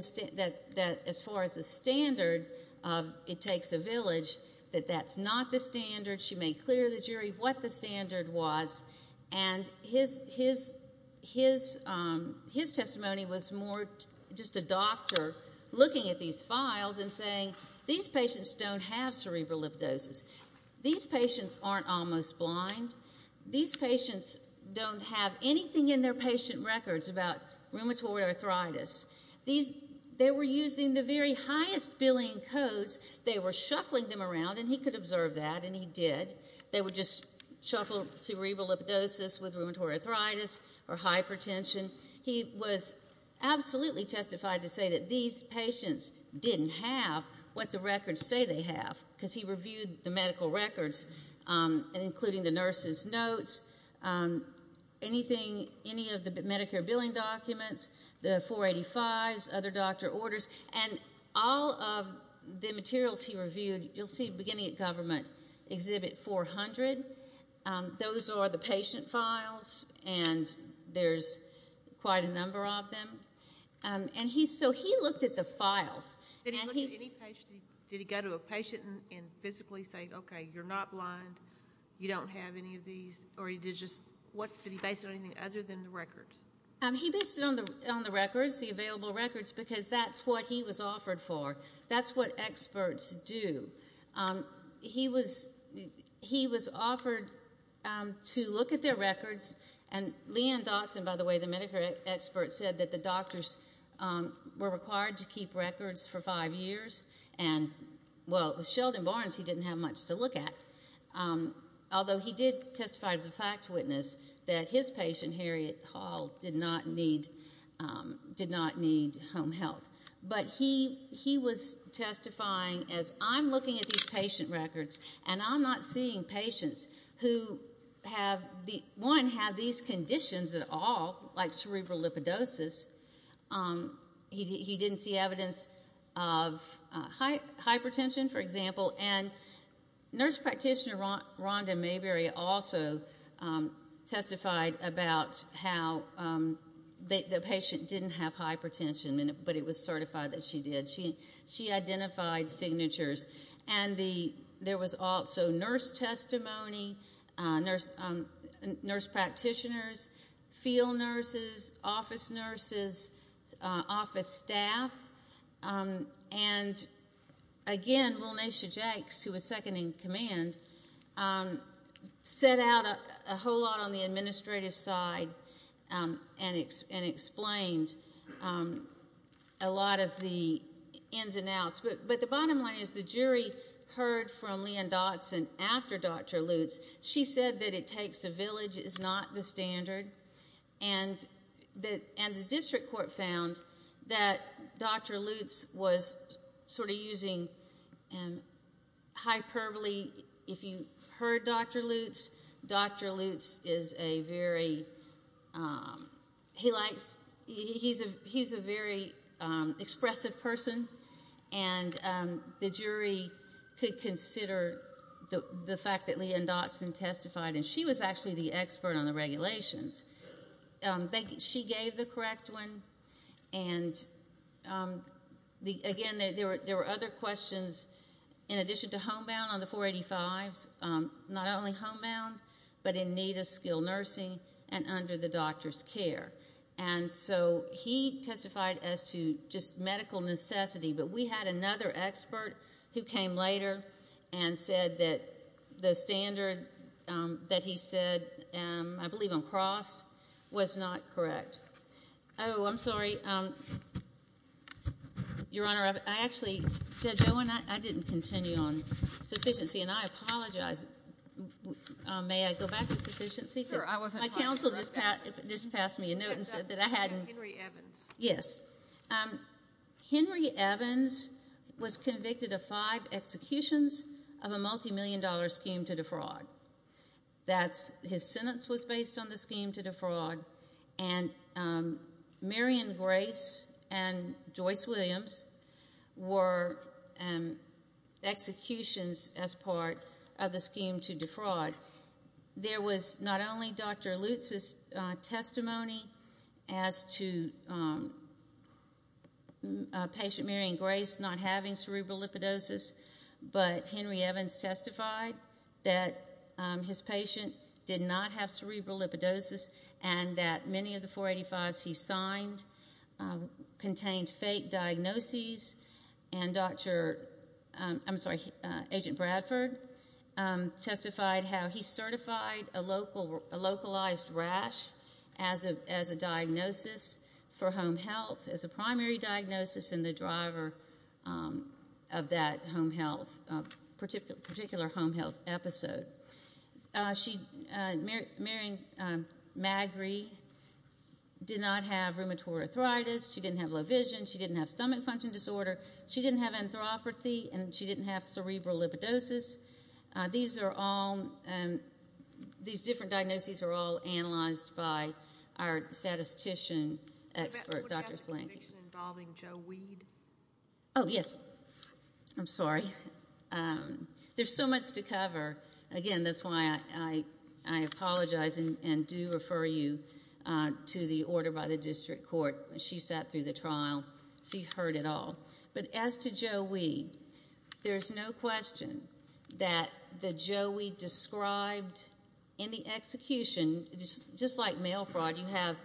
as far as the standard of it takes a village, that that's not the standard. She made clear to the jury what the standard was, and his testimony was more just a doctor looking at these files and saying, these patients don't have cerebral lipidosis. These patients aren't almost blind. These patients don't have anything in their patient records about rheumatoid arthritis. They were using the very highest billing codes. They were shuffling them around, and he could observe that, and he did. They were just shuffled cerebral lipidosis with rheumatoid arthritis or hypertension. He was absolutely testified to say that these patients didn't have what the records say they have because he reviewed the medical records, including the nurse's notes, any of the Medicare billing documents, the 485s, other doctor orders, and all of the materials he reviewed, you'll see beginning at government, Exhibit 400. Those are the patient files, and there's quite a number of them. So he looked at the files. Did he go to a patient and physically say, okay, you're not blind, you don't have any of these, or did he base it on anything other than the records? He based it on the records, the available records, because that's what he was offered for. That's what experts do. He was offered to look at their records, and Lee Ann Dotson, by the way, the Medicare expert, said that the doctors were required to keep records for five years, and, well, it was Sheldon Barnes he didn't have much to look at, although he did testify as a fact witness that his patient, Harriet Hall, did not need home health. But he was testifying as, I'm looking at these patient records, and I'm not seeing patients who, one, have these conditions at all, like cerebral lipidosis. He didn't see evidence of hypertension, for example, and nurse practitioner Rhonda Mayberry also testified about how the patient didn't have hypertension, but it was certified that she did. She identified signatures. And there was also nurse testimony, nurse practitioners, field nurses, office nurses, office staff, and, again, Lilnaysha Jakes, who was second in command, set out a whole lot on the administrative side and explained a lot of the ins and outs. But the bottom line is the jury heard from Lee Ann Dotson after Dr. Lutz. She said that it takes a village, it's not the standard, and the district court found that Dr. Lutz was sort of using hyperbole. If you heard Dr. Lutz, Dr. Lutz is a very expressive person, and the jury could consider the fact that Lee Ann Dotson testified, and she was actually the expert on the regulations. She gave the correct one. And, again, there were other questions in addition to homebound on the 485s, not only homebound but in need of skilled nursing and under the doctor's care. And so he testified as to just medical necessity, but we had another expert who came later and said that the standard that he said, I believe on cross, was not correct. Oh, I'm sorry. Your Honor, I actually, Judge Owen, I didn't continue on sufficiency, and I apologize. May I go back to sufficiency? My counsel just passed me a note and said that I hadn't. Yes. Henry Evans was convicted of five executions of a multimillion-dollar scheme to defraud. His sentence was based on the scheme to defraud, and Marion Grace and Joyce Williams were executions as part of the scheme to defraud. There was not only Dr. Lutz's testimony as to patient Marion Grace not having cerebral lipidosis, but Henry Evans testified that his patient did not have cerebral lipidosis and that many of the 485s he signed contained fake diagnoses, and Agent Bradford testified how he certified a localized rash as a diagnosis for home health, as a primary diagnosis and the driver of that particular home health episode. Marion Magrie did not have rheumatoid arthritis. She didn't have low vision. She didn't have stomach function disorder. She didn't have anthropathy, and she didn't have cerebral lipidosis. These are all ñ these different diagnoses are all analyzed by our statistician expert, Dr. Slanky. What about the conviction involving Joe Weed? Oh, yes. I'm sorry. There's so much to cover. Again, that's why I apologize and do refer you to the order by the district court. She sat through the trial. She heard it all. But as to Joe Weed, there's no question that the Joe Weed described in the execution, just like mail fraud, you have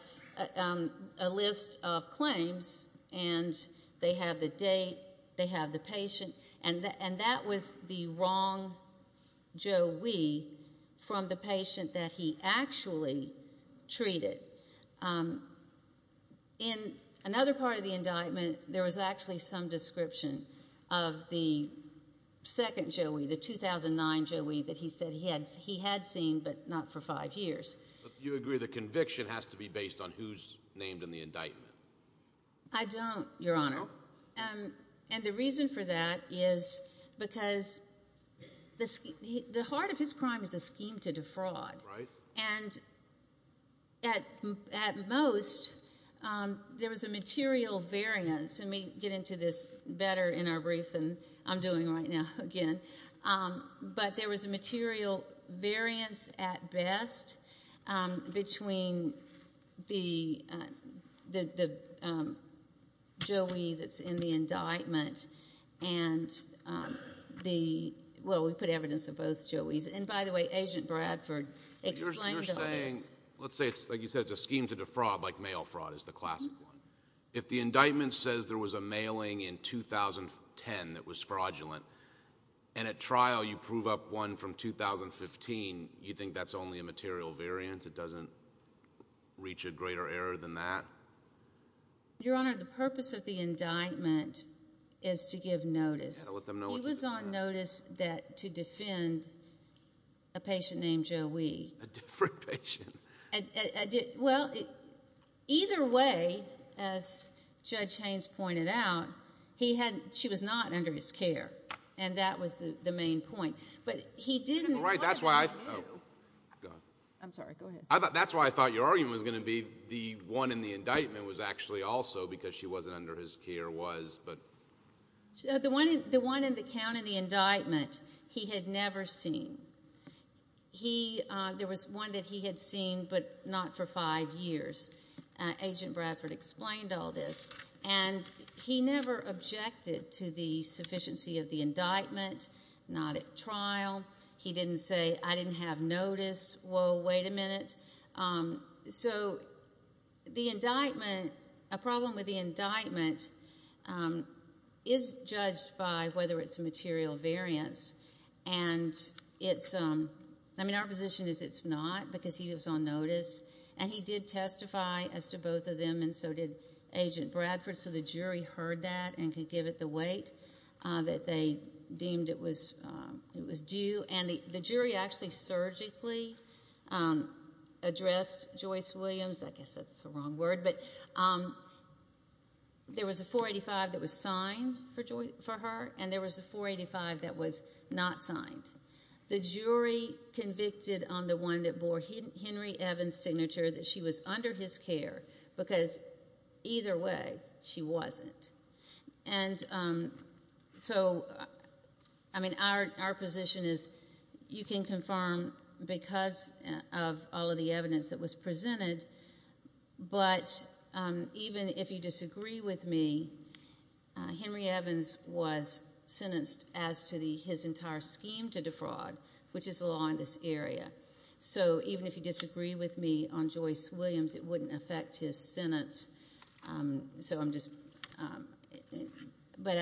a list of claims, and they have the date, they have the patient, and that was the wrong Joe Weed from the patient that he actually treated. In another part of the indictment, there was actually some description of the second Joe Weed, the 2009 Joe Weed that he said he had seen but not for five years. Do you agree the conviction has to be based on who's named in the indictment? I don't, Your Honor. And the reason for that is because the heart of his crime is a scheme to defraud. Right. And at most, there was a material variance. And we get into this better in our brief than I'm doing right now again. But there was a material variance at best between the Joe Weed that's in the indictment and the, well, we put evidence of both Joe Weeds. And, by the way, Agent Bradford explained those. Let's say, like you said, it's a scheme to defraud like mail fraud is the classic one. If the indictment says there was a mailing in 2010 that was fraudulent and at trial you prove up one from 2015, you think that's only a material variance? It doesn't reach a greater error than that? Your Honor, the purpose of the indictment is to give notice. You've got to let them know what you're talking about. He was on notice to defend a patient named Joe Weed. A different patient. Well, either way, as Judge Haynes pointed out, he had, she was not under his care. And that was the main point. But he didn't. Right, that's why I, oh. I'm sorry, go ahead. That's why I thought your argument was going to be the one in the indictment was actually also because she wasn't under his care was, but. The one in the count in the indictment he had never seen. He, there was one that he had seen, but not for five years. Agent Bradford explained all this. And he never objected to the sufficiency of the indictment, not at trial. He didn't say, I didn't have notice. Whoa, wait a minute. So the indictment, a problem with the indictment is judged by whether it's a material variance. And it's, I mean, our position is it's not because he was on notice. And he did testify as to both of them, and so did Agent Bradford. So the jury heard that and could give it the weight that they deemed it was due. And the jury actually surgically addressed Joyce Williams. I guess that's the wrong word. But there was a 485 that was signed for her, and there was a 485 that was not signed. The jury convicted on the one that bore Henry Evans' signature that she was under his care, because either way she wasn't. And so, I mean, our position is you can confirm because of all of the evidence that was presented, but even if you disagree with me, Henry Evans was sentenced as to his entire scheme to defraud, which is the law in this area. So even if you disagree with me on Joyce Williams, it wouldn't affect his sentence. So I'm just, but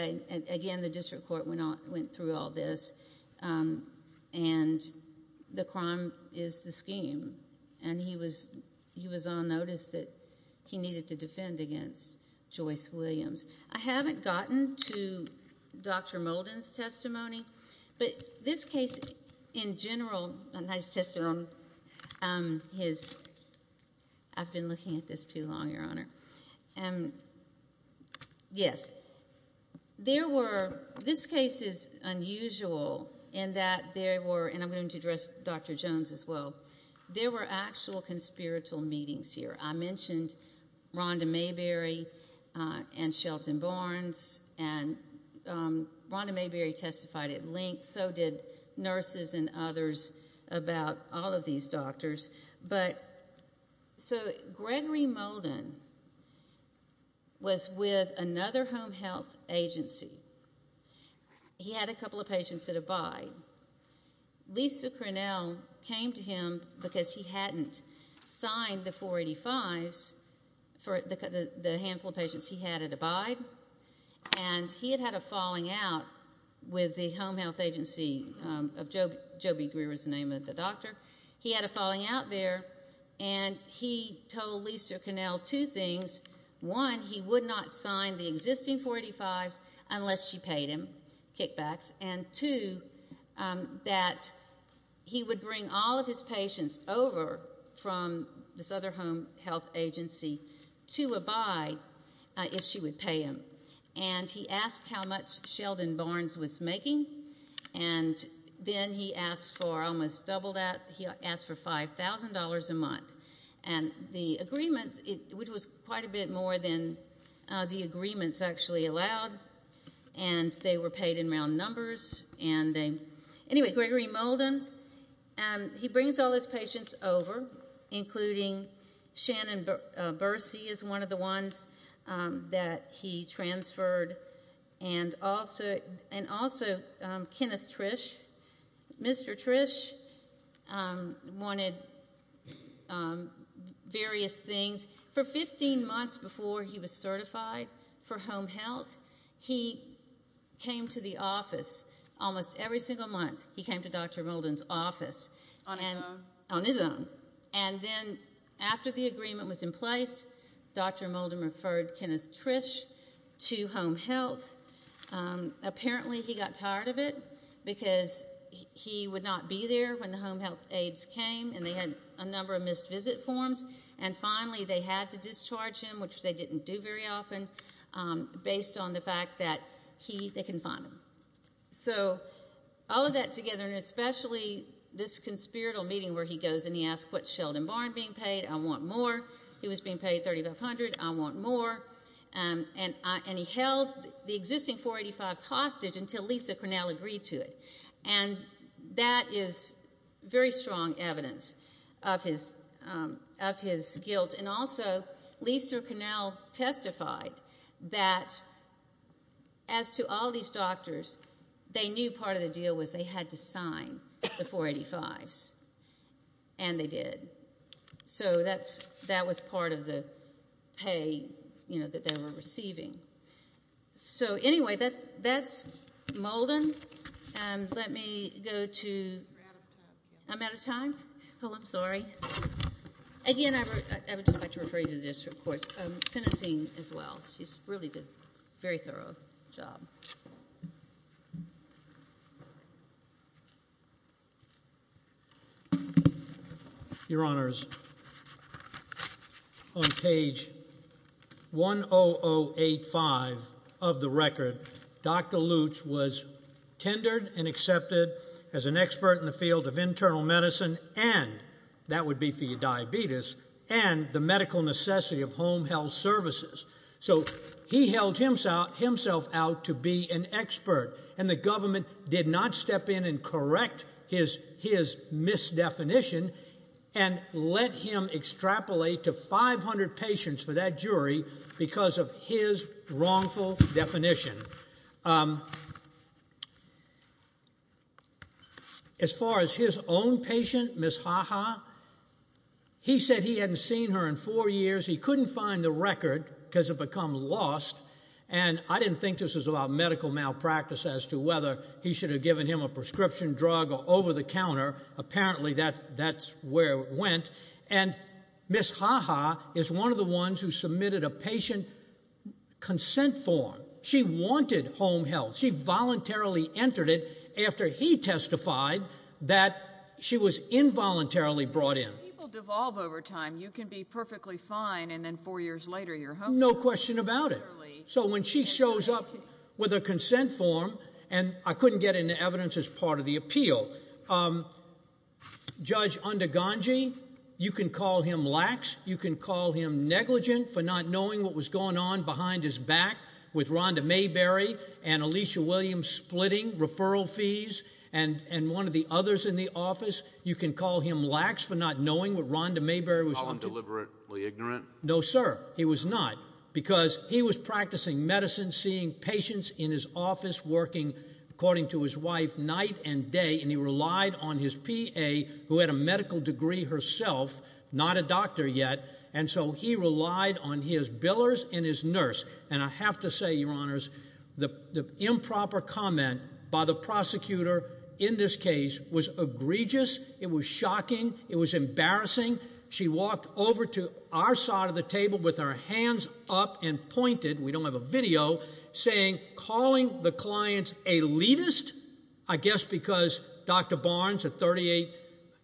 again, the district court went through all this, and the crime is the scheme. And he was on notice that he needed to defend against Joyce Williams. I haven't gotten to Dr. Molden's testimony, but this case in general, and I just tested on his. I've been looking at this too long, Your Honor. Yes. There were, this case is unusual in that there were, and I'm going to address Dr. Jones as well, there were actual conspiratorial meetings here. I mentioned Rhonda Mayberry and Shelton Barnes, and Rhonda Mayberry testified at length, so did nurses and others about all of these doctors. So Gregory Molden was with another home health agency. He had a couple of patients that abided. Lisa Crinnell came to him because he hadn't signed the 485s for the handful of patients he had that abided, and he had had a falling out with the home health agency of Joe B. Greer is the name of the doctor. He had a falling out there, and he told Lisa Crinnell two things. One, he would not sign the existing 485s unless she paid him kickbacks, and two, that he would bring all of his patients over from this other home health agency to abide if she would pay him. And he asked how much Shelton Barnes was making, and then he asked for almost double that. He asked for $5,000 a month. And the agreement, which was quite a bit more than the agreements actually allowed, and they were paid in round numbers. Anyway, Gregory Molden, he brings all his patients over, including Shannon Bursey is one of the ones that he transferred, and also Kenneth Trish. Mr. Trish wanted various things. For 15 months before he was certified for home health, he came to the office almost every single month. He came to Dr. Molden's office on his own. And then after the agreement was in place, Dr. Molden referred Kenneth Trish to home health. Apparently he got tired of it because he would not be there when the home health aides came, and they had a number of missed visit forms. And finally they had to discharge him, which they didn't do very often, based on the fact that they can find him. So all of that together, and especially this conspiratorial meeting where he goes and he asks what's Sheldon Barn being paid, I want more. He was being paid $3,500, I want more. And he held the existing 485s hostage until Lisa Cornell agreed to it. And that is very strong evidence of his guilt. And also Lisa Cornell testified that as to all these doctors, they knew part of the deal was they had to sign the 485s. And they did. So that was part of the pay that they were receiving. So anyway, that's Molden. Let me go to... I'm out of time? Oh, I'm sorry. Again, I would just like to refer you to the district courts sentencing as well. She's really done a very thorough job. Your Honors, on page 10085 of the record, Dr. Lutz was tendered and accepted as an expert in the field of internal medicine and, that would be for your diabetes, and the medical necessity of home health services. So he held himself out to be an expert. And the government did not step in and correct his misdefinition and let him extrapolate to 500 patients for that jury because of his wrongful definition. As far as his own patient, Ms. Haha, he said he hadn't seen her in four years. He couldn't find the record because it had become lost. And I didn't think this was about medical malpractice as to whether he should have given him a prescription drug or over-the-counter. Apparently, that's where it went. And Ms. Haha is one of the ones who submitted a patient consent form. She wanted home health. She voluntarily entered it after he testified that she was involuntarily brought in. People devolve over time. You can be perfectly fine and then four years later you're home. No question about it. So when she shows up with a consent form, and I couldn't get into evidence as part of the appeal, Judge Undegangi, you can call him lax. You can call him negligent for not knowing what was going on behind his back with Rhonda Mayberry and Alicia Williams splitting referral fees and one of the others in the office. You can call him lax for not knowing what Rhonda Mayberry was up to. Call him deliberately ignorant? No, sir. He was not. Because he was practicing medicine, seeing patients in his office, working, according to his wife, night and day, and he relied on his PA, who had a medical degree herself, not a doctor yet, and so he relied on his billers and his nurse. And I have to say, Your Honors, the improper comment by the prosecutor in this case was egregious. It was shocking. It was embarrassing. She walked over to our side of the table with her hands up and pointed, we don't have a video, saying, calling the clients elitist, I guess because Dr. Barnes, a 38,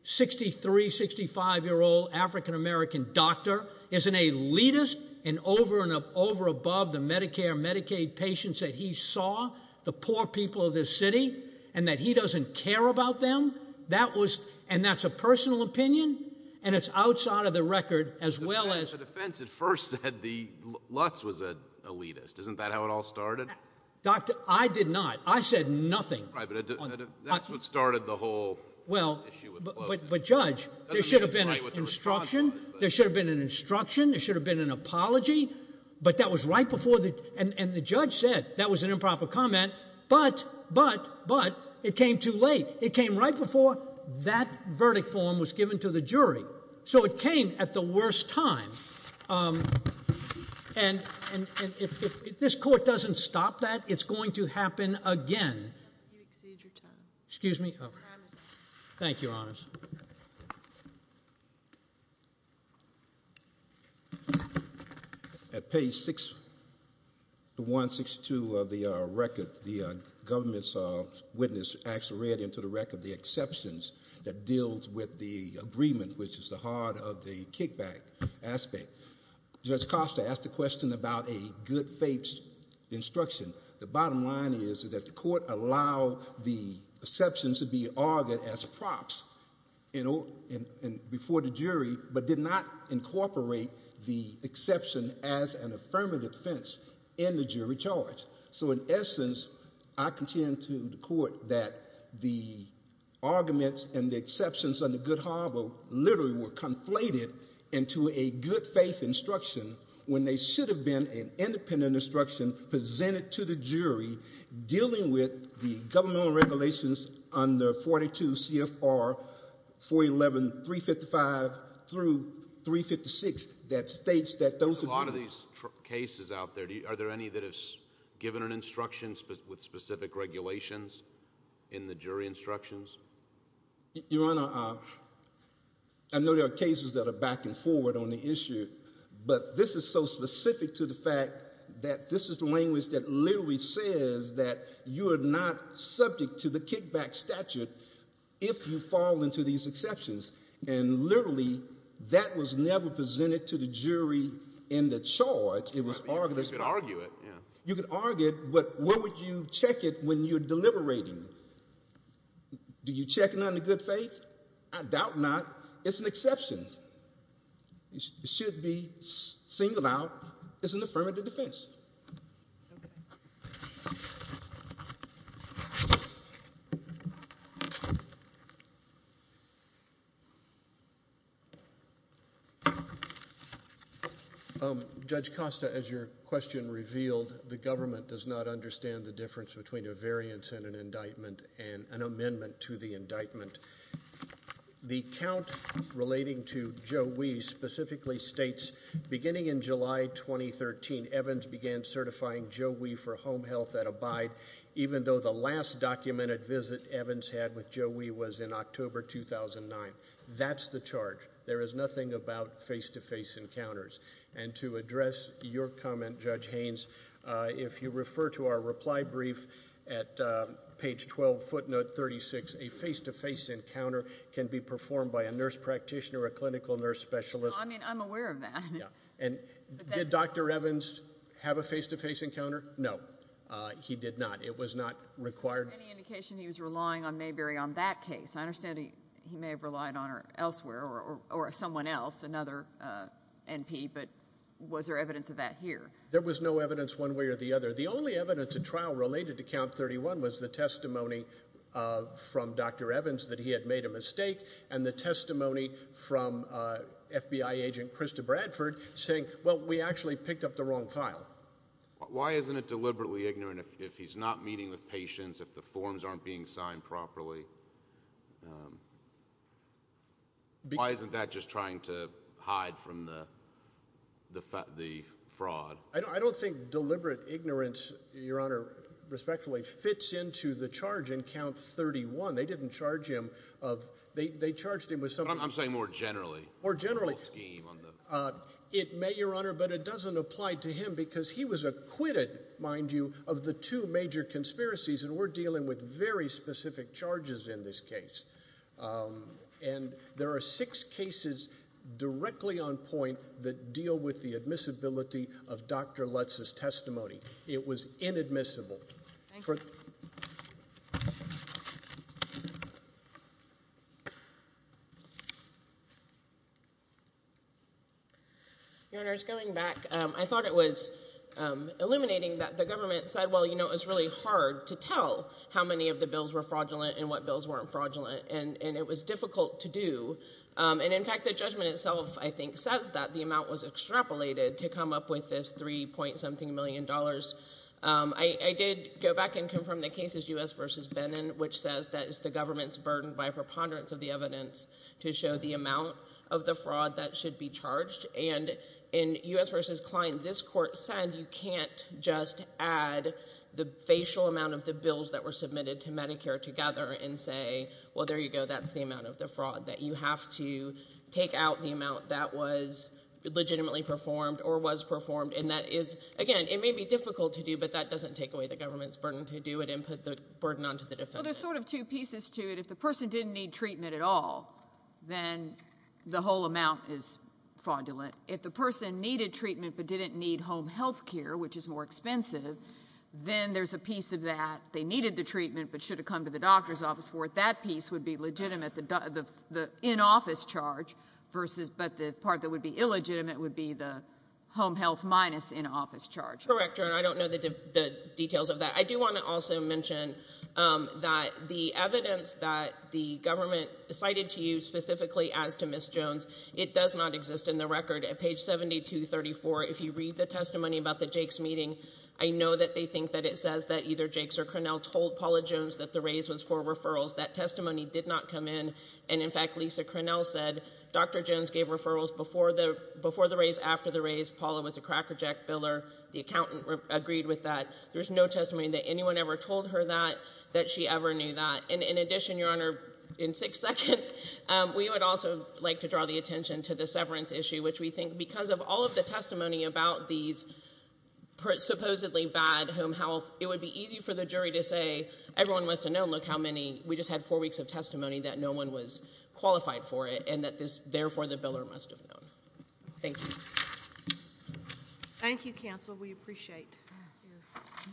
63, 65-year-old African-American doctor, is an elitist and over and over above the Medicare and Medicaid patients that he saw, the poor people of this city, and that he doesn't care about them? And that's a personal opinion, and it's outside of the record, as well as— The defense at first said the Lutz was an elitist. Isn't that how it all started? Doctor, I did not. I said nothing. Right, but that's what started the whole issue with the clothing. Well, but Judge, there should have been instruction. There should have been an instruction. There should have been an apology. But that was right before the—and the judge said that was an improper comment, but, but, but, it came too late. It came right before that verdict form was given to the jury. So it came at the worst time. And if this court doesn't stop that, it's going to happen again. You've exceeded your time. Excuse me? Your time is up. Thank you, Your Honors. Thank you. At page 6162 of the record, the government's witness actually read into the record the exceptions that deals with the agreement, which is the heart of the kickback aspect. Judge Costa asked a question about a good faith instruction. The bottom line is that the court allowed the exceptions to be argued as props before the jury but did not incorporate the exception as an affirmative defense in the jury charge. So in essence, I contend to the court that the arguments and the exceptions under Good Harbor literally were conflated into a good faith instruction when they should have been an independent instruction presented to the jury dealing with the governmental regulations under 42 CFR 411.355 through 356 that states that those— There's a lot of these cases out there. Are there any that have given an instruction with specific regulations in the jury instructions? Your Honor, I know there are cases that are back and forward on the issue, but this is so specific to the fact that this is the language that literally says that you are not subject to the kickback statute if you fall into these exceptions, and literally that was never presented to the jury in the charge. You could argue it, yeah. Do you check it under good faith? I doubt not. It's an exception. It should be singled out as an affirmative defense. Judge Costa, as your question revealed, the government does not understand the difference between a variance and an indictment and an amendment to the indictment. The count relating to Joe Wee specifically states, beginning in July 2013, Evans began certifying Joe Wee for home health at Abide, even though the last documented visit Evans had with Joe Wee was in October 2009. That's the charge. There is nothing about face-to-face encounters. And to address your comment, Judge Haynes, if you refer to our reply brief at page 12, footnote 36, a face-to-face encounter can be performed by a nurse practitioner or a clinical nurse specialist. I mean, I'm aware of that. And did Dr. Evans have a face-to-face encounter? No, he did not. It was not required. Any indication he was relying on Mayberry on that case? I understand he may have relied on her elsewhere or someone else, another NP, but was there evidence of that here? There was no evidence one way or the other. The only evidence at trial related to count 31 was the testimony from Dr. Evans that he had made a mistake and the testimony from FBI agent Krista Bradford saying, well, we actually picked up the wrong file. Why isn't it deliberately ignorant if he's not meeting with patients, if the forms aren't being signed properly? Why isn't that just trying to hide from the fraud? I don't think deliberate ignorance, Your Honor, respectfully, fits into the charge in count 31. They didn't charge him. They charged him with something. I'm saying more generally. More generally. It may, Your Honor, but it doesn't apply to him because he was acquitted, mind you, of the two major conspiracies, and we're dealing with very specific charges in this case. And there are six cases directly on point that deal with the admissibility of Dr. Lutz's testimony. It was inadmissible. Your Honor, just going back, I thought it was illuminating that the government said, well, you know, it was really hard to tell how many of the bills were fraudulent and what bills weren't fraudulent, and it was difficult to do. And, in fact, the judgment itself, I think, says that the amount was extrapolated to come up with this $3. something million. I did go back and confirm the cases U.S. v. Benin, which says that it's the government's burden by preponderance of the evidence to show the amount of the fraud that should be charged. And in U.S. v. Klein, this court said you can't just add the facial amount of the bills that were submitted to Medicare together and say, well, there you go, that's the amount of the fraud, that you have to take out the amount that was legitimately performed or was performed. And that is, again, it may be difficult to do, but that doesn't take away the government's burden to do it and put the burden onto the defendant. Well, there's sort of two pieces to it. If the person didn't need treatment at all, then the whole amount is fraudulent. If the person needed treatment but didn't need home health care, which is more expensive, then there's a piece of that, they needed the treatment but should have come to the doctor's office for it, that piece would be legitimate, the in-office charge, but the part that would be illegitimate would be the home health minus in-office charge. Correct, Your Honor. I don't know the details of that. I do want to also mention that the evidence that the government cited to you specifically as to Ms. Jones, it does not exist in the record. At page 7234, if you read the testimony about the Jakes meeting, I know that they think that it says that either Jakes or Cronell told Paula Jones that the raise was for referrals. That testimony did not come in. And, in fact, Lisa Cronell said Dr. Jones gave referrals before the raise, after the raise. Paula was a crackerjack biller. The accountant agreed with that. There's no testimony that anyone ever told her that, that she ever knew that. And, in addition, Your Honor, in six seconds, we would also like to draw the attention to the severance issue, which we think because of all of the testimony about these supposedly bad home health, it would be easy for the jury to say everyone must have known, look how many, we just had four weeks of testimony that no one was qualified for it and that this, therefore, the biller must have known. Thank you. Thank you, counsel. We appreciate it.